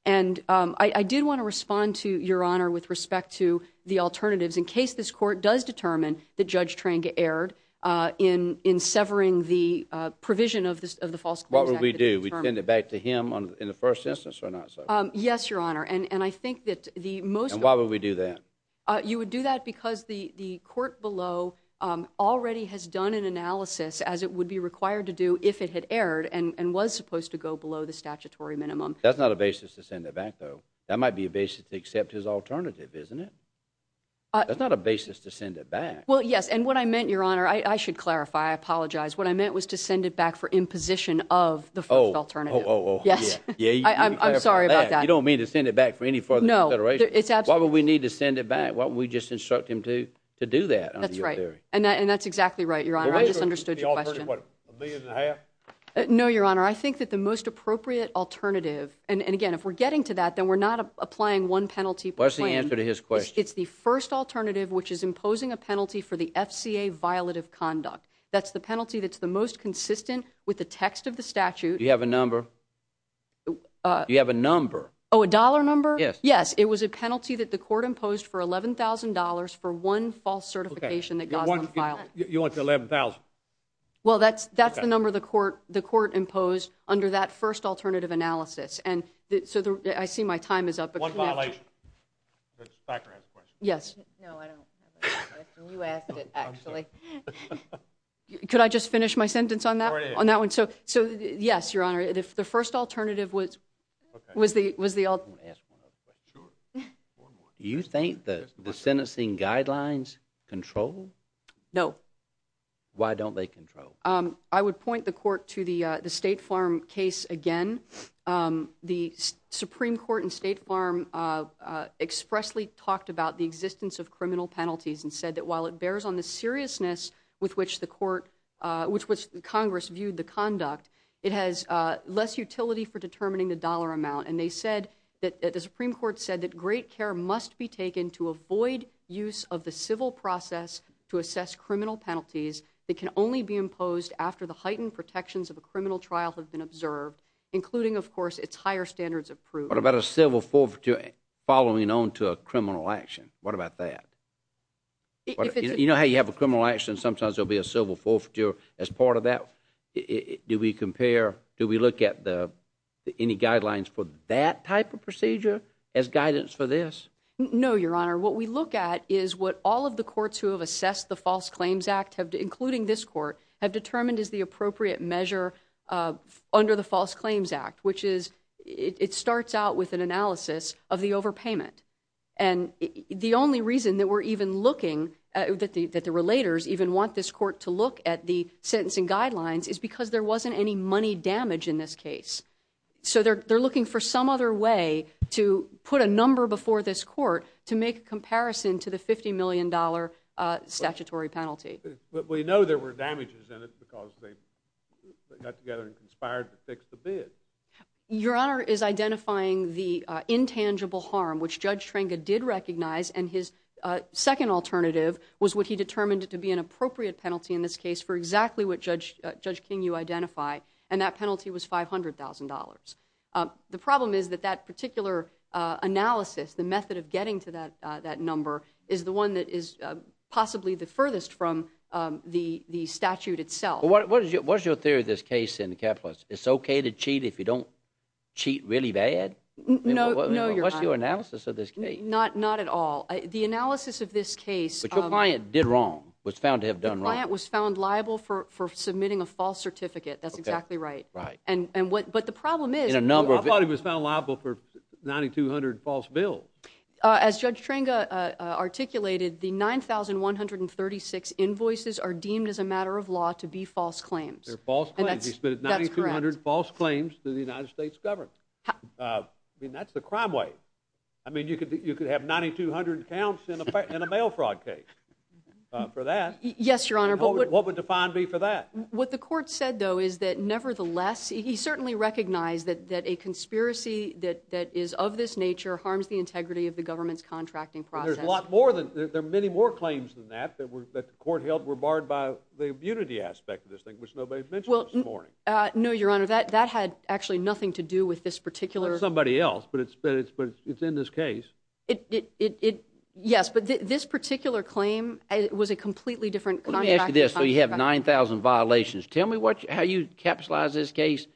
And I did want to respond to, Your Honor, with respect to the alternatives in case this court does determine that Judge Tranga erred in severing the provision of the false claims act. What would we do? We tend it back to him in the first instance or not? Yes, Your Honor. And I think that the most— And why would we do that? You would do that because the court below already has done an analysis, as it would be required to do if it had erred and was supposed to go below the statutory minimum. That's not a basis to send it back, though. That might be a basis to accept his alternative, isn't it? That's not a basis to send it back. Well, yes. And what I meant, Your Honor—I should clarify. I apologize. What I meant was to send it back for imposition of the first alternative. Oh, oh, oh. Yes. I'm sorry about that. You don't mean to send it back for any further consideration? No. It's absolutely— Why would we need to send it back? Why don't we just instruct him to do that? That's right. And that's exactly right, Your Honor. I just understood your question. The alternative, what, a million and a half? No, Your Honor. I think that the most appropriate alternative—and again, if we're getting to that, then we're not applying one penalty per claim. What's the answer to his question? It's the first alternative, which is imposing a penalty for the FCA violative conduct. That's the penalty that's the most consistent with the text of the statute. Do you have a number? Do you have a number? Oh, a dollar number? Yes. It was a penalty that the court imposed for $11,000 for one false certification that Gosland filed. You want the $11,000? Well, that's the number the court imposed under that first alternative analysis. And so I see my time is up. One violation. Ms. Thacker has a question. Yes. No, I don't have a question. You asked it, actually. Could I just finish my sentence on that one? So, yes, Your Honor. The first alternative was the alternative. Do you think that the sentencing guidelines control? No. Why don't they control? I would point the court to the State Farm case again. The Supreme Court and State Farm expressly talked about the existence of criminal penalties and said that while it bears on the seriousness with which the court, which Congress viewed the conduct, it has less utility for determining the dollar amount. And they said that the Supreme Court said that great care must be taken to avoid use of the civil process to assess criminal penalties that can only be imposed after the heightened protections of a criminal trial have been observed, including, of course, it's higher standards of proof. What about a civil forfeiture following on to a criminal action? What about that? You know how you have a criminal action, sometimes there'll be a civil forfeiture as part of it. Do we look at any guidelines for that type of procedure as guidance for this? No, Your Honor. What we look at is what all of the courts who have assessed the False Claims Act, including this court, have determined is the appropriate measure under the False Claims Act, which is it starts out with an analysis of the overpayment. And the only reason that we're even looking, that the relators even want this court to look at the sentencing guidelines, is because there wasn't any money damage in this case. So they're looking for some other way to put a number before this court to make a comparison to the $50 million statutory penalty. But we know there were damages in it because they got together and conspired to fix the bid. Your Honor is identifying the intangible harm, which Judge Trenga did recognize, and his for exactly what Judge King, you identify, and that penalty was $500,000. The problem is that that particular analysis, the method of getting to that number, is the one that is possibly the furthest from the statute itself. What is your theory of this case in the capitalists? It's okay to cheat if you don't cheat really bad? No, Your Honor. What's your analysis of this case? Not at all. The analysis of this case... But your client did wrong, was found to have done wrong. Your client was found liable for submitting a false certificate. That's exactly right. Okay, right. But the problem is... In a number of... I thought he was found liable for 9,200 false bills. As Judge Trenga articulated, the 9,136 invoices are deemed as a matter of law to be false claims. They're false claims. He submitted 9,200 false claims to the United States government. That's the crime way. I mean, you could have 9,200 counts in a mail fraud case for that. Yes, Your Honor. What would the fine be for that? What the court said, though, is that nevertheless, he certainly recognized that a conspiracy that is of this nature harms the integrity of the government's contracting process. There's a lot more than... There are many more claims than that that the court held were barred by the immunity aspect of this thing, which nobody mentioned this morning. No, Your Honor. That had actually nothing to do with this particular... Somebody else, but it's in this case. It, yes, but this particular claim was a completely different... Let me ask you this. So you have 9,000 violations. Tell me how you capitalize this case.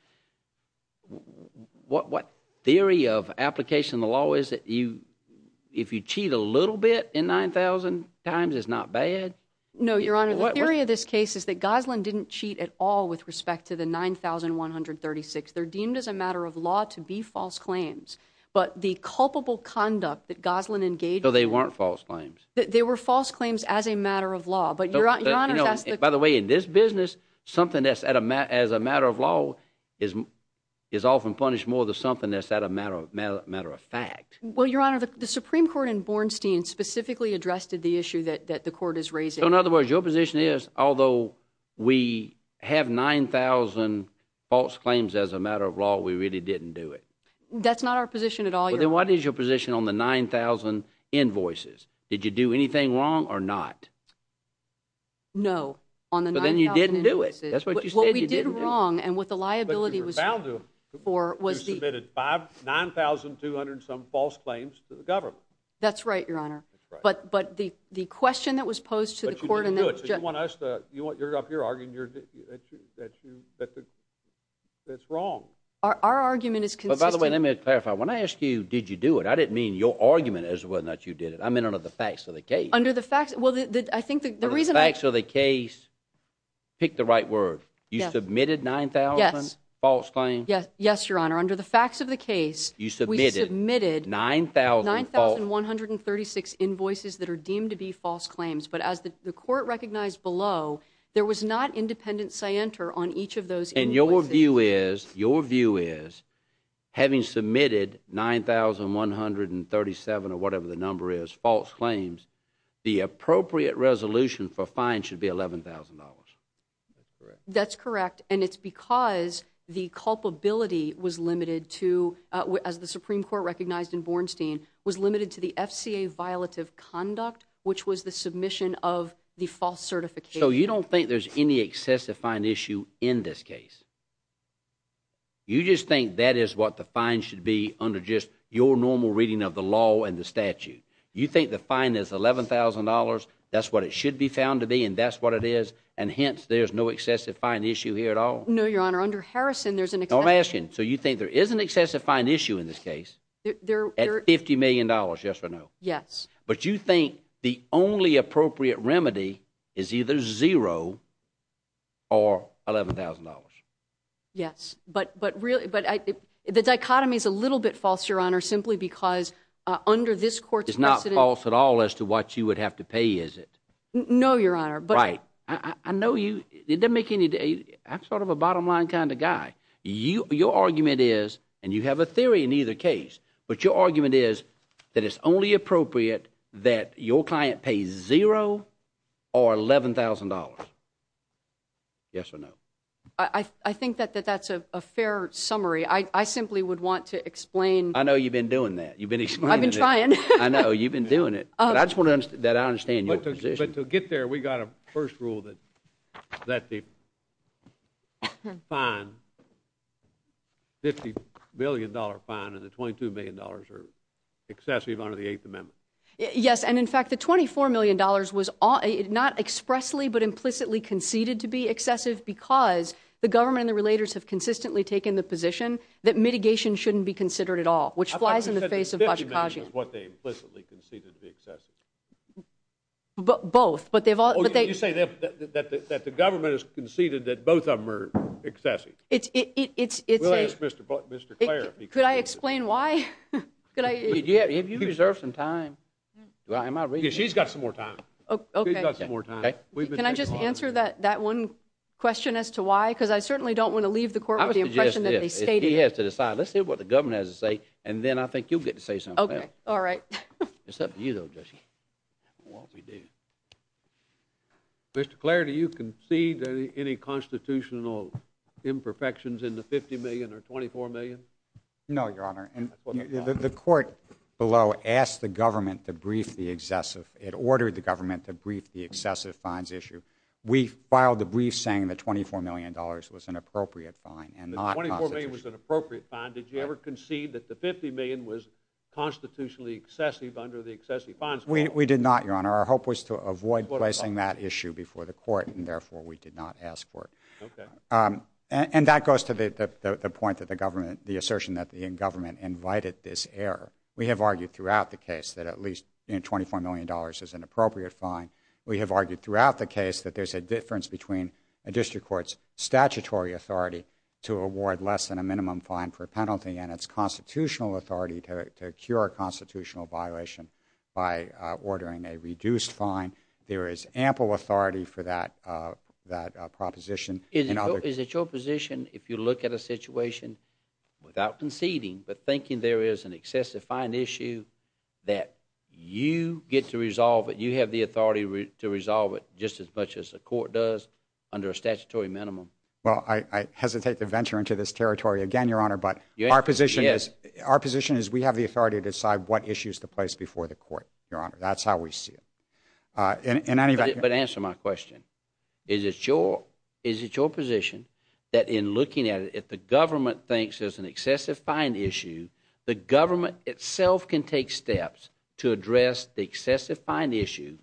What theory of application of the law is that if you cheat a little bit in 9,000 times, it's not bad? No, Your Honor. The theory of this case is that Gosling didn't cheat at all with respect to the 9,136. They're deemed as a matter of law to be false claims. But the culpable conduct that Gosling engaged... So they weren't false claims? They were false claims as a matter of law. But Your Honor has to... By the way, in this business, something that's as a matter of law is often punished more than something that's at a matter of fact. Well, Your Honor, the Supreme Court in Bornstein specifically addressed the issue that the court is raising. So in other words, your position is, although we have 9,000 false claims as a matter of law, we really didn't do it? That's not our position at all, Your Honor. Then what is your position on the 9,000 invoices? Did you do anything wrong or not? No. On the 9,000 invoices... But then you didn't do it. That's what you said you didn't do. What we did wrong and what the liability was... But you were found to have submitted 9,200 and some false claims to the government. That's right, Your Honor. But the question that was posed to the court... But you didn't do it, so you want us to... You're up here arguing that it's wrong. Our argument is consistent... But by the way, let me clarify. When I asked you, did you do it, I didn't mean your argument as well that you did it. I meant under the facts of the case. Under the facts... Well, I think the reason... Under the facts of the case, pick the right word. You submitted 9,000 false claims? Yes, Your Honor. Under the facts of the case, we submitted 9,136 invoices that are deemed to be false claims. But as the court recognized below, there was not independent scienter on each of those invoices. And your view is, your view is, having submitted 9,137 or whatever the number is, false claims, the appropriate resolution for fine should be $11,000. That's correct. And it's because the culpability was limited to, as the Supreme Court recognized in Bornstein, was limited to the FCA violative conduct, which was the submission of the false certification. So you don't think there's any excessive fine issue in this case? You just think that is what the fine should be under just your normal reading of the law and the statute? You think the fine is $11,000, that's what it should be found to be, and that's what it is? And hence, there's no excessive fine issue here at all? No, Your Honor. Under Harrison, there's an excessive... No, I'm asking, so you think there is an excessive fine issue in this case? $50 million, yes or no? Yes. But you think the only appropriate remedy is either zero or $11,000? Yes, but the dichotomy is a little bit false, Your Honor, simply because under this court's precedent... It's not false at all as to what you would have to pay, is it? No, Your Honor, but... Right, I know you, it doesn't make any... I'm sort of a bottom line kind of guy. Your argument is, and you have a theory in either case, but your argument is that it's only appropriate that your client pay zero or $11,000, yes or no? I think that that's a fair summary, I simply would want to explain... I know you've been doing that, you've been explaining it. I've been trying. I know, you've been doing it, but I just want to understand your position. But to get there, we got a first rule that the fine, $50 million fine and the $22 million are excessive under the Eighth Amendment. Yes, and in fact, the $24 million was not expressly, but implicitly conceded to be excessive because the government and the relators have consistently taken the position that mitigation shouldn't be considered at all, which flies in the face of... I thought you said the $50 million is what they implicitly conceded to be excessive. Both, but they've all... Oh, you say that the government has conceded that both of them are excessive. It's a... We'll ask Mr. Clare. Could I explain why? If you reserve some time... She's got some more time. Can I just answer that one question as to why? Because I certainly don't want to leave the court with the impression that they stated... He has to decide. Let's see what the government has to say, and then I think you'll get to say something. Okay, all right. It's up to you, though, Jesse. Mr. Clare, do you concede any constitutional imperfections in the $50 million or $24 million? No, Your Honor. The court below asked the government to brief the excessive... It ordered the government to brief the excessive fines issue. We filed the brief saying the $24 million was an appropriate fine and not... The $24 million was an appropriate fine. Did you ever concede that the $50 million was constitutionally excessive under the excessive fines clause? We did not, Your Honor. Our hope was to avoid placing that issue before the court, and therefore we did not ask for it. Okay. And that goes to the point that the assertion that the government invited this error. We have argued throughout the case that at least $24 million is an appropriate fine. We have argued throughout the case that there's a difference between a district court's statutory authority to award less than a minimum fine for a penalty and its constitutional authority to cure a constitutional violation by ordering a reduced fine. There is ample authority for that proposition. Is it your position if you look at a situation without conceding but thinking there is an excessive fine issue that you get to resolve it, you have the authority to resolve it just as much as the court does under a statutory minimum? Well, I hesitate to venture into this territory again, Your Honor, but our position is we have the authority to decide what issues to place before the court, Your Honor. That's how we see it. But answer my question. Is it your position that in looking at it, if the government thinks there's an excessive fine issue, the government itself can take steps to address the excessive fine issue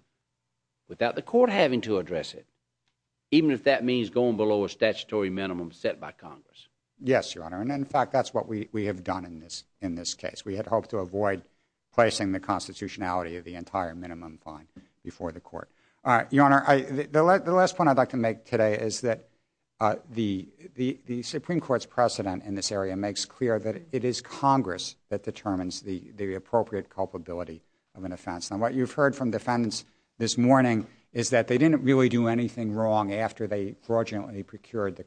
without the court having to address it, even if that means going below a statutory minimum set by Congress? Yes, Your Honor, and in fact, that's what we have done in this case. We had hoped to avoid placing the constitutionality of the entire minimum fine before the court. All right, Your Honor, the last point I'd like to make today is that the Supreme Court's precedent in this area makes clear that it is Congress that determines the appropriate culpability of an offense. Now, what you've heard from defendants this morning is that they didn't really do anything wrong after they fraudulently procured the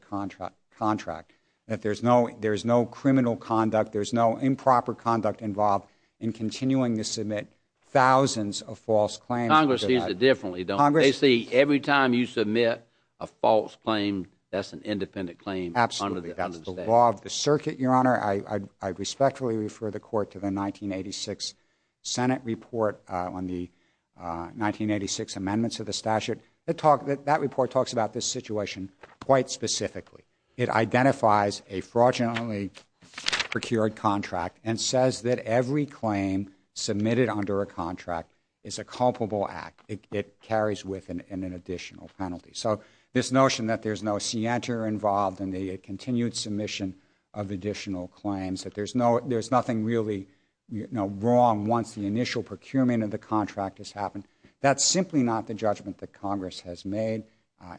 contract, that there's no criminal conduct, there's no improper conduct involved in continuing to submit thousands of false claims. Congress sees it differently, don't they? They see every time you submit a false claim, that's an independent claim under the statute. Absolutely, that's the law of the circuit, Your Honor. I respectfully refer the court to the 1986 Senate report on the 1986 amendments of the statute. That report talks about this situation quite specifically. It identifies a fraudulently procured contract and says that every claim submitted under a contract is a culpable act. It carries with it an additional penalty. So this notion that there's no scienter involved in the continued submission of additional claims, that there's nothing really wrong once the initial procurement of the contract has happened, that's simply not the judgment that Congress has made.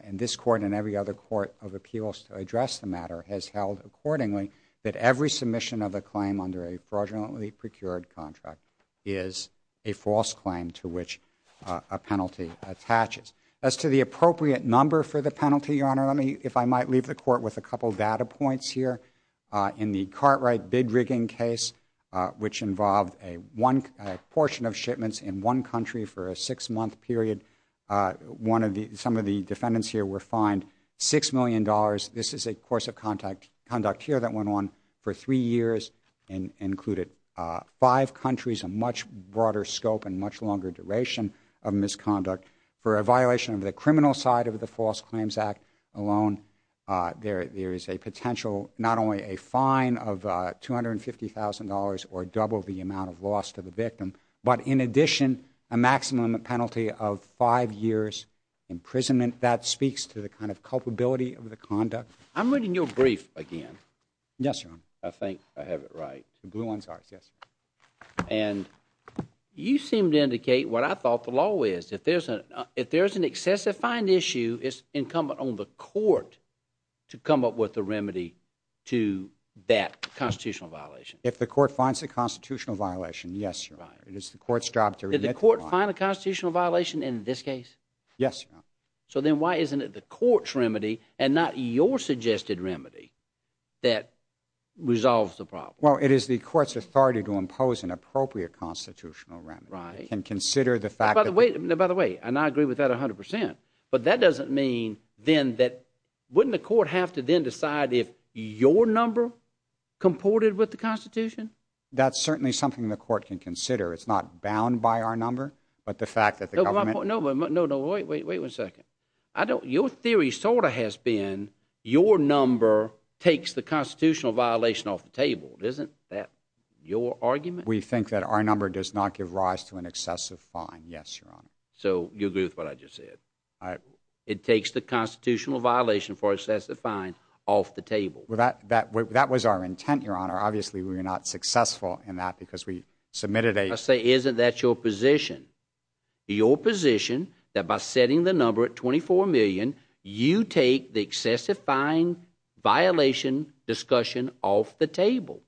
And this court and every other court of appeals to address the matter has held accordingly that every submission of a claim under a fraudulently procured contract is a false claim to which a penalty attaches. As to the appropriate number for the penalty, Your Honor, if I might leave the court with a couple of data points here. In the Cartwright bid rigging case, which involved a portion of shipments in one country for a six-month period, some of the defendants here were fined $6 million. This is a course of conduct here that went on for three years and included five countries, a much broader scope and much longer duration of misconduct. For a violation of the criminal side of the False Claims Act alone, there is a potential, not only a fine of $250,000 or double the amount of loss to the victim, but in addition, a maximum penalty of five years' imprisonment. That speaks to the kind of culpability of the conduct. I'm reading your brief again. Yes, Your Honor. I think I have it right. The blue ones are, yes. And you seem to indicate what I thought the law is. If there's an excessive fine issue, it's incumbent on the court to come up with a remedy to that constitutional violation. If the court finds a constitutional violation, yes, Your Honor. It is the court's job to— Did the court find a constitutional violation in this case? Yes, Your Honor. So then why isn't it the court's remedy and not your suggested remedy that resolves the problem? Well, it is the court's authority to impose an appropriate constitutional remedy. Right. It can consider the fact that— By the way, and I agree with that 100 percent, but that doesn't mean then that—wouldn't the court have to then decide if your number comported with the Constitution? That's certainly something the court can consider. It's not bound by our number, but the fact that the government— No, no, wait one second. Your theory sort of has been your number takes the constitutional violation off the table. Isn't that your argument? We think that our number does not give rise to an excessive fine, yes, Your Honor. So you agree with what I just said? It takes the constitutional violation for excessive fine off the table. That was our intent, Your Honor. Obviously, we were not successful in that because we submitted a— I say, isn't that your position? Your position that by setting the number at $24 million, you take the excessive fine violation discussion off the table?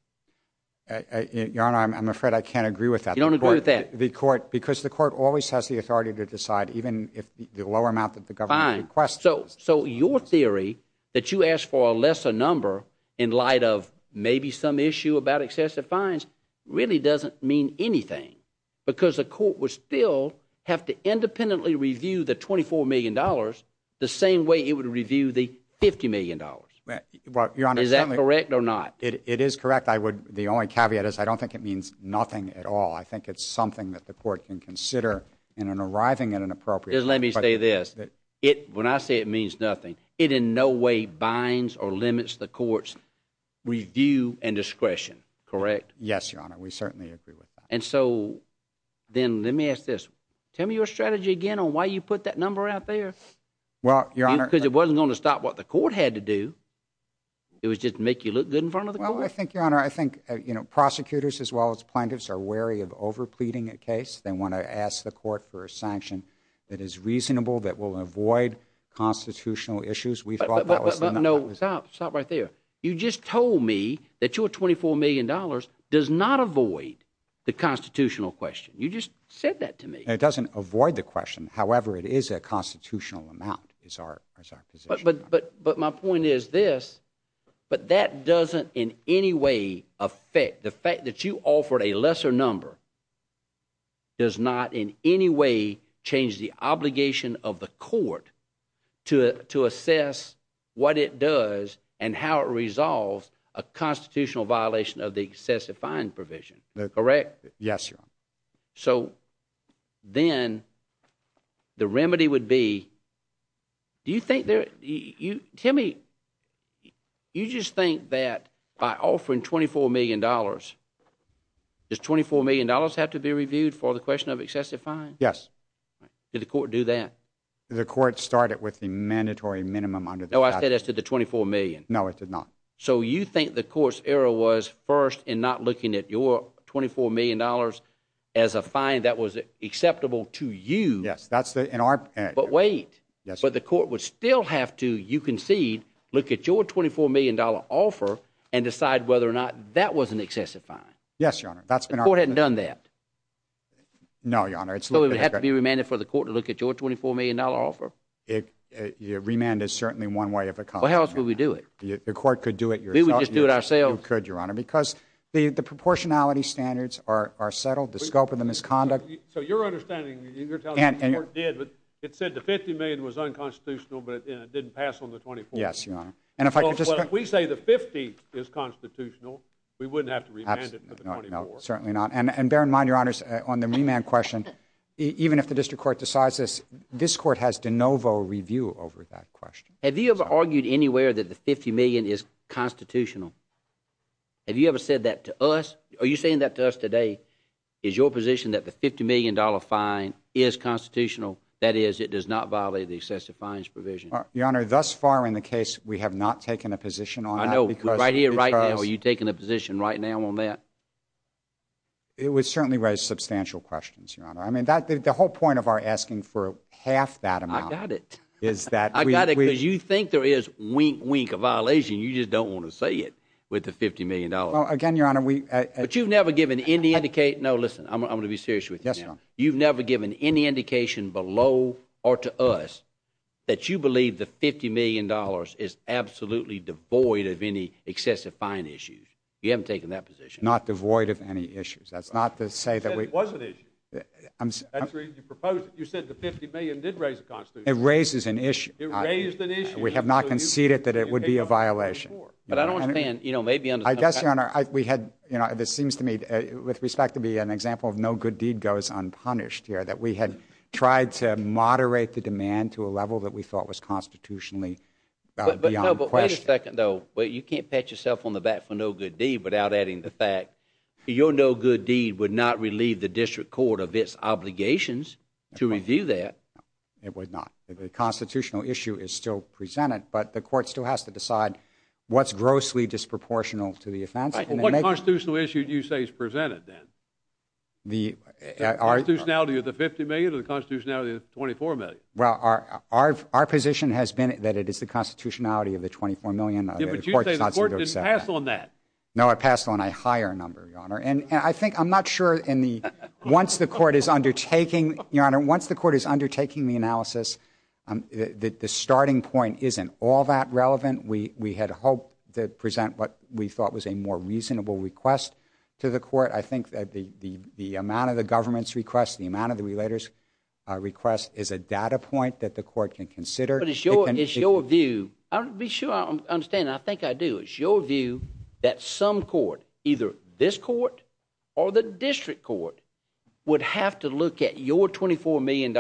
Your Honor, I'm afraid I can't agree with that. You don't agree with that? The court—because the court always has the authority to decide, even if the lower amount that the government requests— Fine. So your theory that you asked for a lesser number in light of maybe some issue about because the court would still have to independently review the $24 million the same way it would review the $50 million. Is that correct or not? It is correct. I would—the only caveat is I don't think it means nothing at all. I think it's something that the court can consider in an arriving at an appropriate— Let me say this. When I say it means nothing, it in no way binds or limits the court's review and discretion, correct? Yes, Your Honor. We certainly agree with that. So then let me ask this. Tell me your strategy again on why you put that number out there? Well, Your Honor— Because it wasn't going to stop what the court had to do. It was just to make you look good in front of the court? Well, I think, Your Honor, I think prosecutors as well as plaintiffs are wary of over pleading a case. They want to ask the court for a sanction that is reasonable, that will avoid constitutional issues. We thought that was the— No, stop. Stop right there. You just told me that your $24 million does not avoid the constitutional question. You just said that to me. It doesn't avoid the question. However, it is a constitutional amount is our position. But my point is this, but that doesn't in any way affect—the fact that you offered a lesser number does not in any way change the obligation of the court to assess what it does and how it resolves a constitutional violation of the excessive fine provision, correct? Yes, Your Honor. So then the remedy would be—do you think there—tell me, you just think that by offering $24 million, does $24 million have to be reviewed for the question of excessive fine? Yes. Did the court do that? The court started with the mandatory minimum under the statute. I said that's to the $24 million. No, it did not. So you think the court's error was first in not looking at your $24 million as a fine that was acceptable to you. Yes, that's the—in our— But wait. But the court would still have to, you concede, look at your $24 million offer and decide whether or not that was an excessive fine. Yes, Your Honor. That's been our— The court hadn't done that. No, Your Honor. So it would have to be remanded for the court to look at your $24 million offer? It—remand is certainly one way of accomplishing that. Well, how else would we do it? The court could do it yourself. We would just do it ourselves. You could, Your Honor, because the proportionality standards are settled. The scope of the misconduct— So your understanding—you're telling me the court did, but it said the $50 million was unconstitutional, but it didn't pass on the $24 million. Yes, Your Honor. And if I could just— We say the $50 is constitutional. We wouldn't have to remand it for the $24. Certainly not. And bear in mind, Your Honors, on the remand question, even if the district court decides this, this court has de novo review over that question. Have you ever argued anywhere that the $50 million is constitutional? Have you ever said that to us? Are you saying that to us today? Is your position that the $50 million fine is constitutional? That is, it does not violate the excessive fines provision? Your Honor, thus far in the case, we have not taken a position on that because— I know, but right here, right now, are you taking a position right now on that? It would certainly raise substantial questions, Your Honor. The whole point of our asking for half that amount— I got it. —is that we— I got it, because you think there is, wink, wink, a violation. You just don't want to say it with the $50 million. Well, again, Your Honor, we— But you've never given any indicate—no, listen. I'm going to be serious with you now. Yes, Your Honor. You've never given any indication below or to us that you believe the $50 million is absolutely devoid of any excessive fine issues. You haven't taken that position. Not devoid of any issues. That's not to say that we— It was an issue. That's the reason you proposed it. You said the $50 million did raise a constitution. It raises an issue. It raised an issue. We have not conceded that it would be a violation. But I don't understand, you know, maybe— I guess, Your Honor, we had—you know, this seems to me, with respect to me, an example of no good deed goes unpunished here, that we had tried to moderate the demand to a level that we thought was constitutionally beyond question. No, but wait a second, though. You can't pat yourself on the back for no good deed without adding the fact your no good deed would not relieve the district court of its obligations to review that. It would not. The constitutional issue is still presented, but the court still has to decide what's grossly disproportional to the offense. What constitutional issue do you say is presented, then? The constitutionality of the $50 million or the constitutionality of the $24 million? Well, our position has been that it is the constitutionality of the $24 million. Yeah, but you say the court didn't pass on that. No, it passed on a higher number, Your Honor. And I think—I'm not sure in the—once the court is undertaking—Your Honor, once the court is undertaking the analysis, the starting point isn't all that relevant. We had hoped to present what we thought was a more reasonable request to the court. I think that the amount of the government's request, the amount of the relator's request is a data point that the court can consider. But it's your view—be sure I'm understanding. I think I do. It's your view that some court, either this court or the district court, would have to look at your $24 million,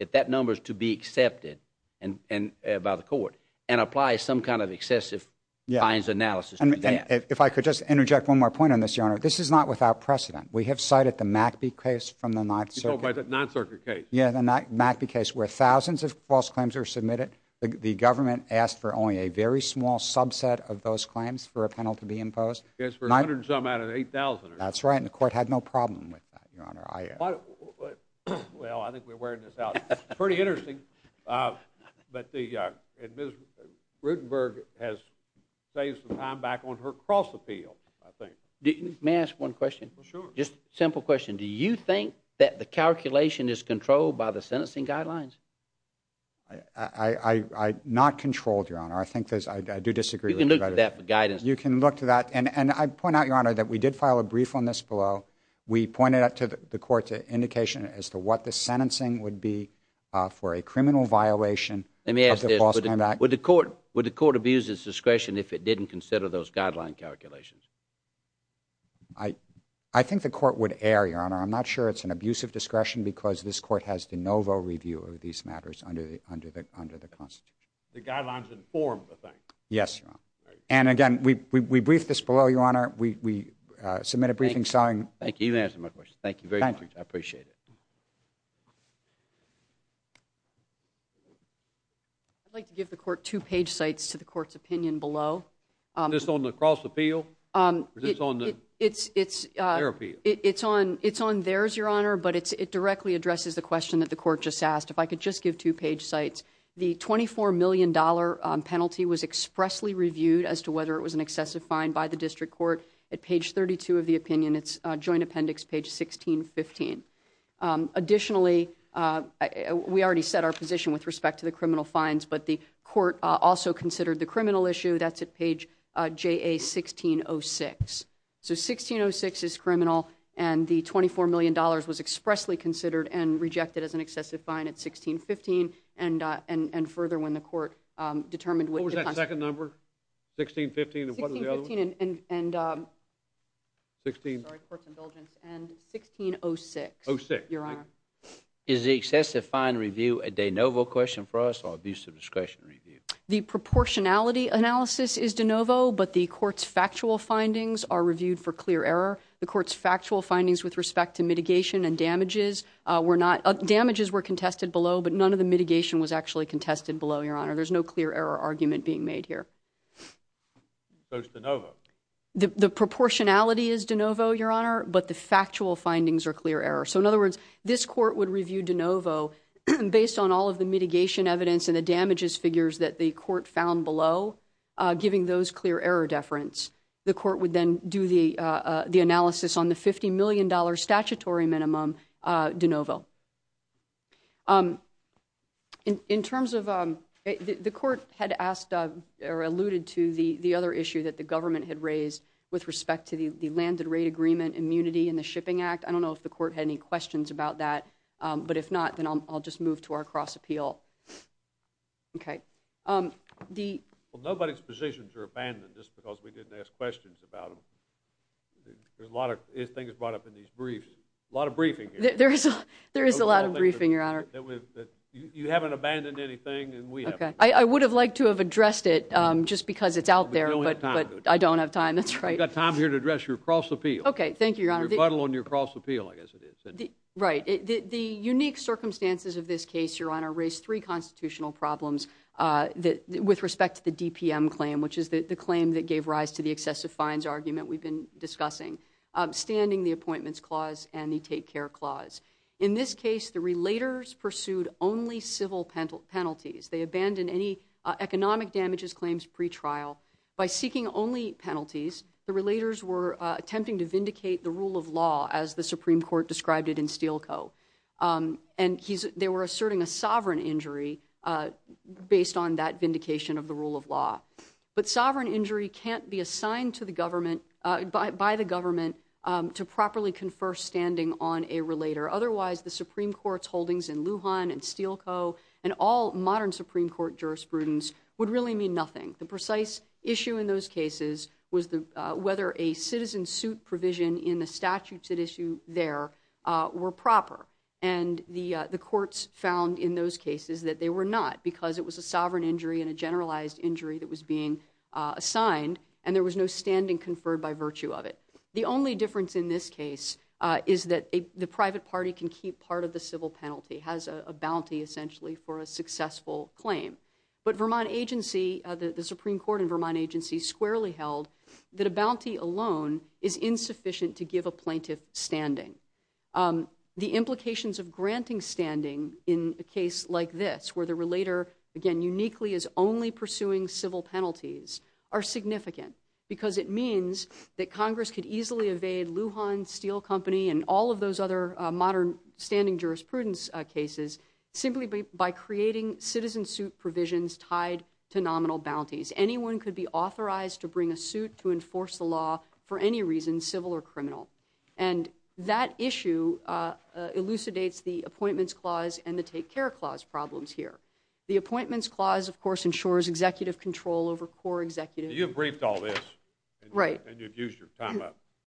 if that number is to be accepted by the court, and apply some kind of excessive fines analysis to that. If I could just interject one more point on this, Your Honor. This is not without precedent. We have cited the McAbee case from the 9th Circuit. You're talking about the 9th Circuit case? Yeah, the McAbee case, where thousands of false claims are submitted. The government asked for only a very small subset of those claims for a penalty to be imposed. I guess for a hundred and something out of 8,000. That's right. And the court had no problem with that, Your Honor. Well, I think we're wearing this out. Pretty interesting. But Ms. Rutenberg has saved some time back on her cross-appeal, I think. May I ask one question? Sure. Just a simple question. Do you think that the calculation is controlled by the sentencing guidelines? I not controlled, Your Honor. I think there's, I do disagree. You can look to that for guidance. You can look to that. And I point out, Your Honor, that we did file a brief on this below. We pointed out to the court's indication as to what the sentencing would be for a criminal violation of the false claim act. Let me ask this. Would the court abuse its discretion if it didn't consider those guideline calculations? I think the court would err, Your Honor. I'm not sure it's an abuse of discretion, because this court has de novo review of these matters under the Constitution. The guidelines inform the thing. Yes, Your Honor. And again, we briefed this below, Your Honor. We submitted a briefing sign. Thank you. You've answered my question. Thank you very much. I appreciate it. I'd like to give the court two page sites to the court's opinion below. Is this on the cross-appeal? Or is this on their appeal? It's on theirs, Your Honor. But it directly addresses the question that the court just asked. If I could just give two page sites. The $24 million penalty was expressly reviewed as to whether it was an excessive fine by the district court at page 32 of the opinion. It's joint appendix page 1615. Additionally, we already set our position with respect to the criminal fines. But the court also considered the criminal issue. That's at page JA-1606. So 1606 is criminal. And the $24 million was expressly considered and rejected as an excessive fine at 1615. And further, when the court determined what was that second number? 1615 and what was the other one? 1615 and 1606, Your Honor. Is the excessive fine review a de novo question for us or abuse of discretion review? The proportionality analysis is de novo. But the court's factual findings are reviewed for clear error. The court's factual findings with respect to mitigation and damages were not. Damages were contested below. But none of the mitigation was actually contested below, Your Honor. There's no clear error argument being made here. So it's de novo. The proportionality is de novo, Your Honor. But the factual findings are clear error. So in other words, this court would review de novo based on all of the mitigation evidence and the damages figures that the court found below, giving those clear error deference. The court would then do the analysis on the $50 million statutory minimum de novo. In terms of the court had asked or alluded to the other issue that the government had raised with respect to the landed rate agreement immunity in the Shipping Act. I don't know if the court had any questions about that. But if not, then I'll just move to our cross appeal. OK, the. Well, nobody's positions are abandoned just because we didn't ask questions about them. There's a lot of things brought up in these briefs. A lot of briefing here. There is a lot of briefing, Your Honor. You haven't abandoned anything, and we haven't. I would have liked to have addressed it just because it's out there, but I don't have time. That's right. I've got time here to address your cross appeal. OK, thank you, Your Honor. Rebuttal on your cross appeal, I guess it is. Right. The unique circumstances of this case, Your Honor, raised three constitutional problems with respect to the DPM claim, which is the claim that gave rise to the excessive fines argument we've been discussing, standing the appointments clause and the take care clause. In this case, the relators pursued only civil penalties. They abandoned any economic damages claims pretrial by seeking only penalties. The relators were attempting to vindicate the rule of law, as the Supreme Court described it in Steele Co. And they were asserting a sovereign injury based on that vindication of the rule of law. But sovereign injury can't be assigned by the government to properly confer standing on a relator. Otherwise, the Supreme Court's holdings in Lujan and Steele Co. and all modern Supreme Court jurisprudence would really mean nothing. The precise issue in those cases was whether a citizen suit provision in the statutes at issue there were proper. And the courts found in those cases that they were not, because it was a sovereign injury and a generalized injury that was being assigned. And there was no standing conferred by virtue of it. The only difference in this case is that the private party can keep part of the civil penalty, has a bounty, essentially, for a successful claim. But the Supreme Court in Vermont agency squarely held that a bounty alone is insufficient to give a plaintiff standing. The implications of granting standing in a case like this, where the relator, again, uniquely is only pursuing civil penalties, are significant. Because it means that Congress could easily evade Lujan, Steele Co. and all of those other modern standing jurisprudence cases simply by creating citizen suit provisions tied to nominal bounties. Anyone could be authorized to bring a suit to enforce the law for any reason, civil or criminal. And that issue elucidates the Appointments Clause and the Take Care Clause problems here. The Appointments Clause, of course, ensures executive control over core executive. You've briefed all this. Right. And you've used your time up.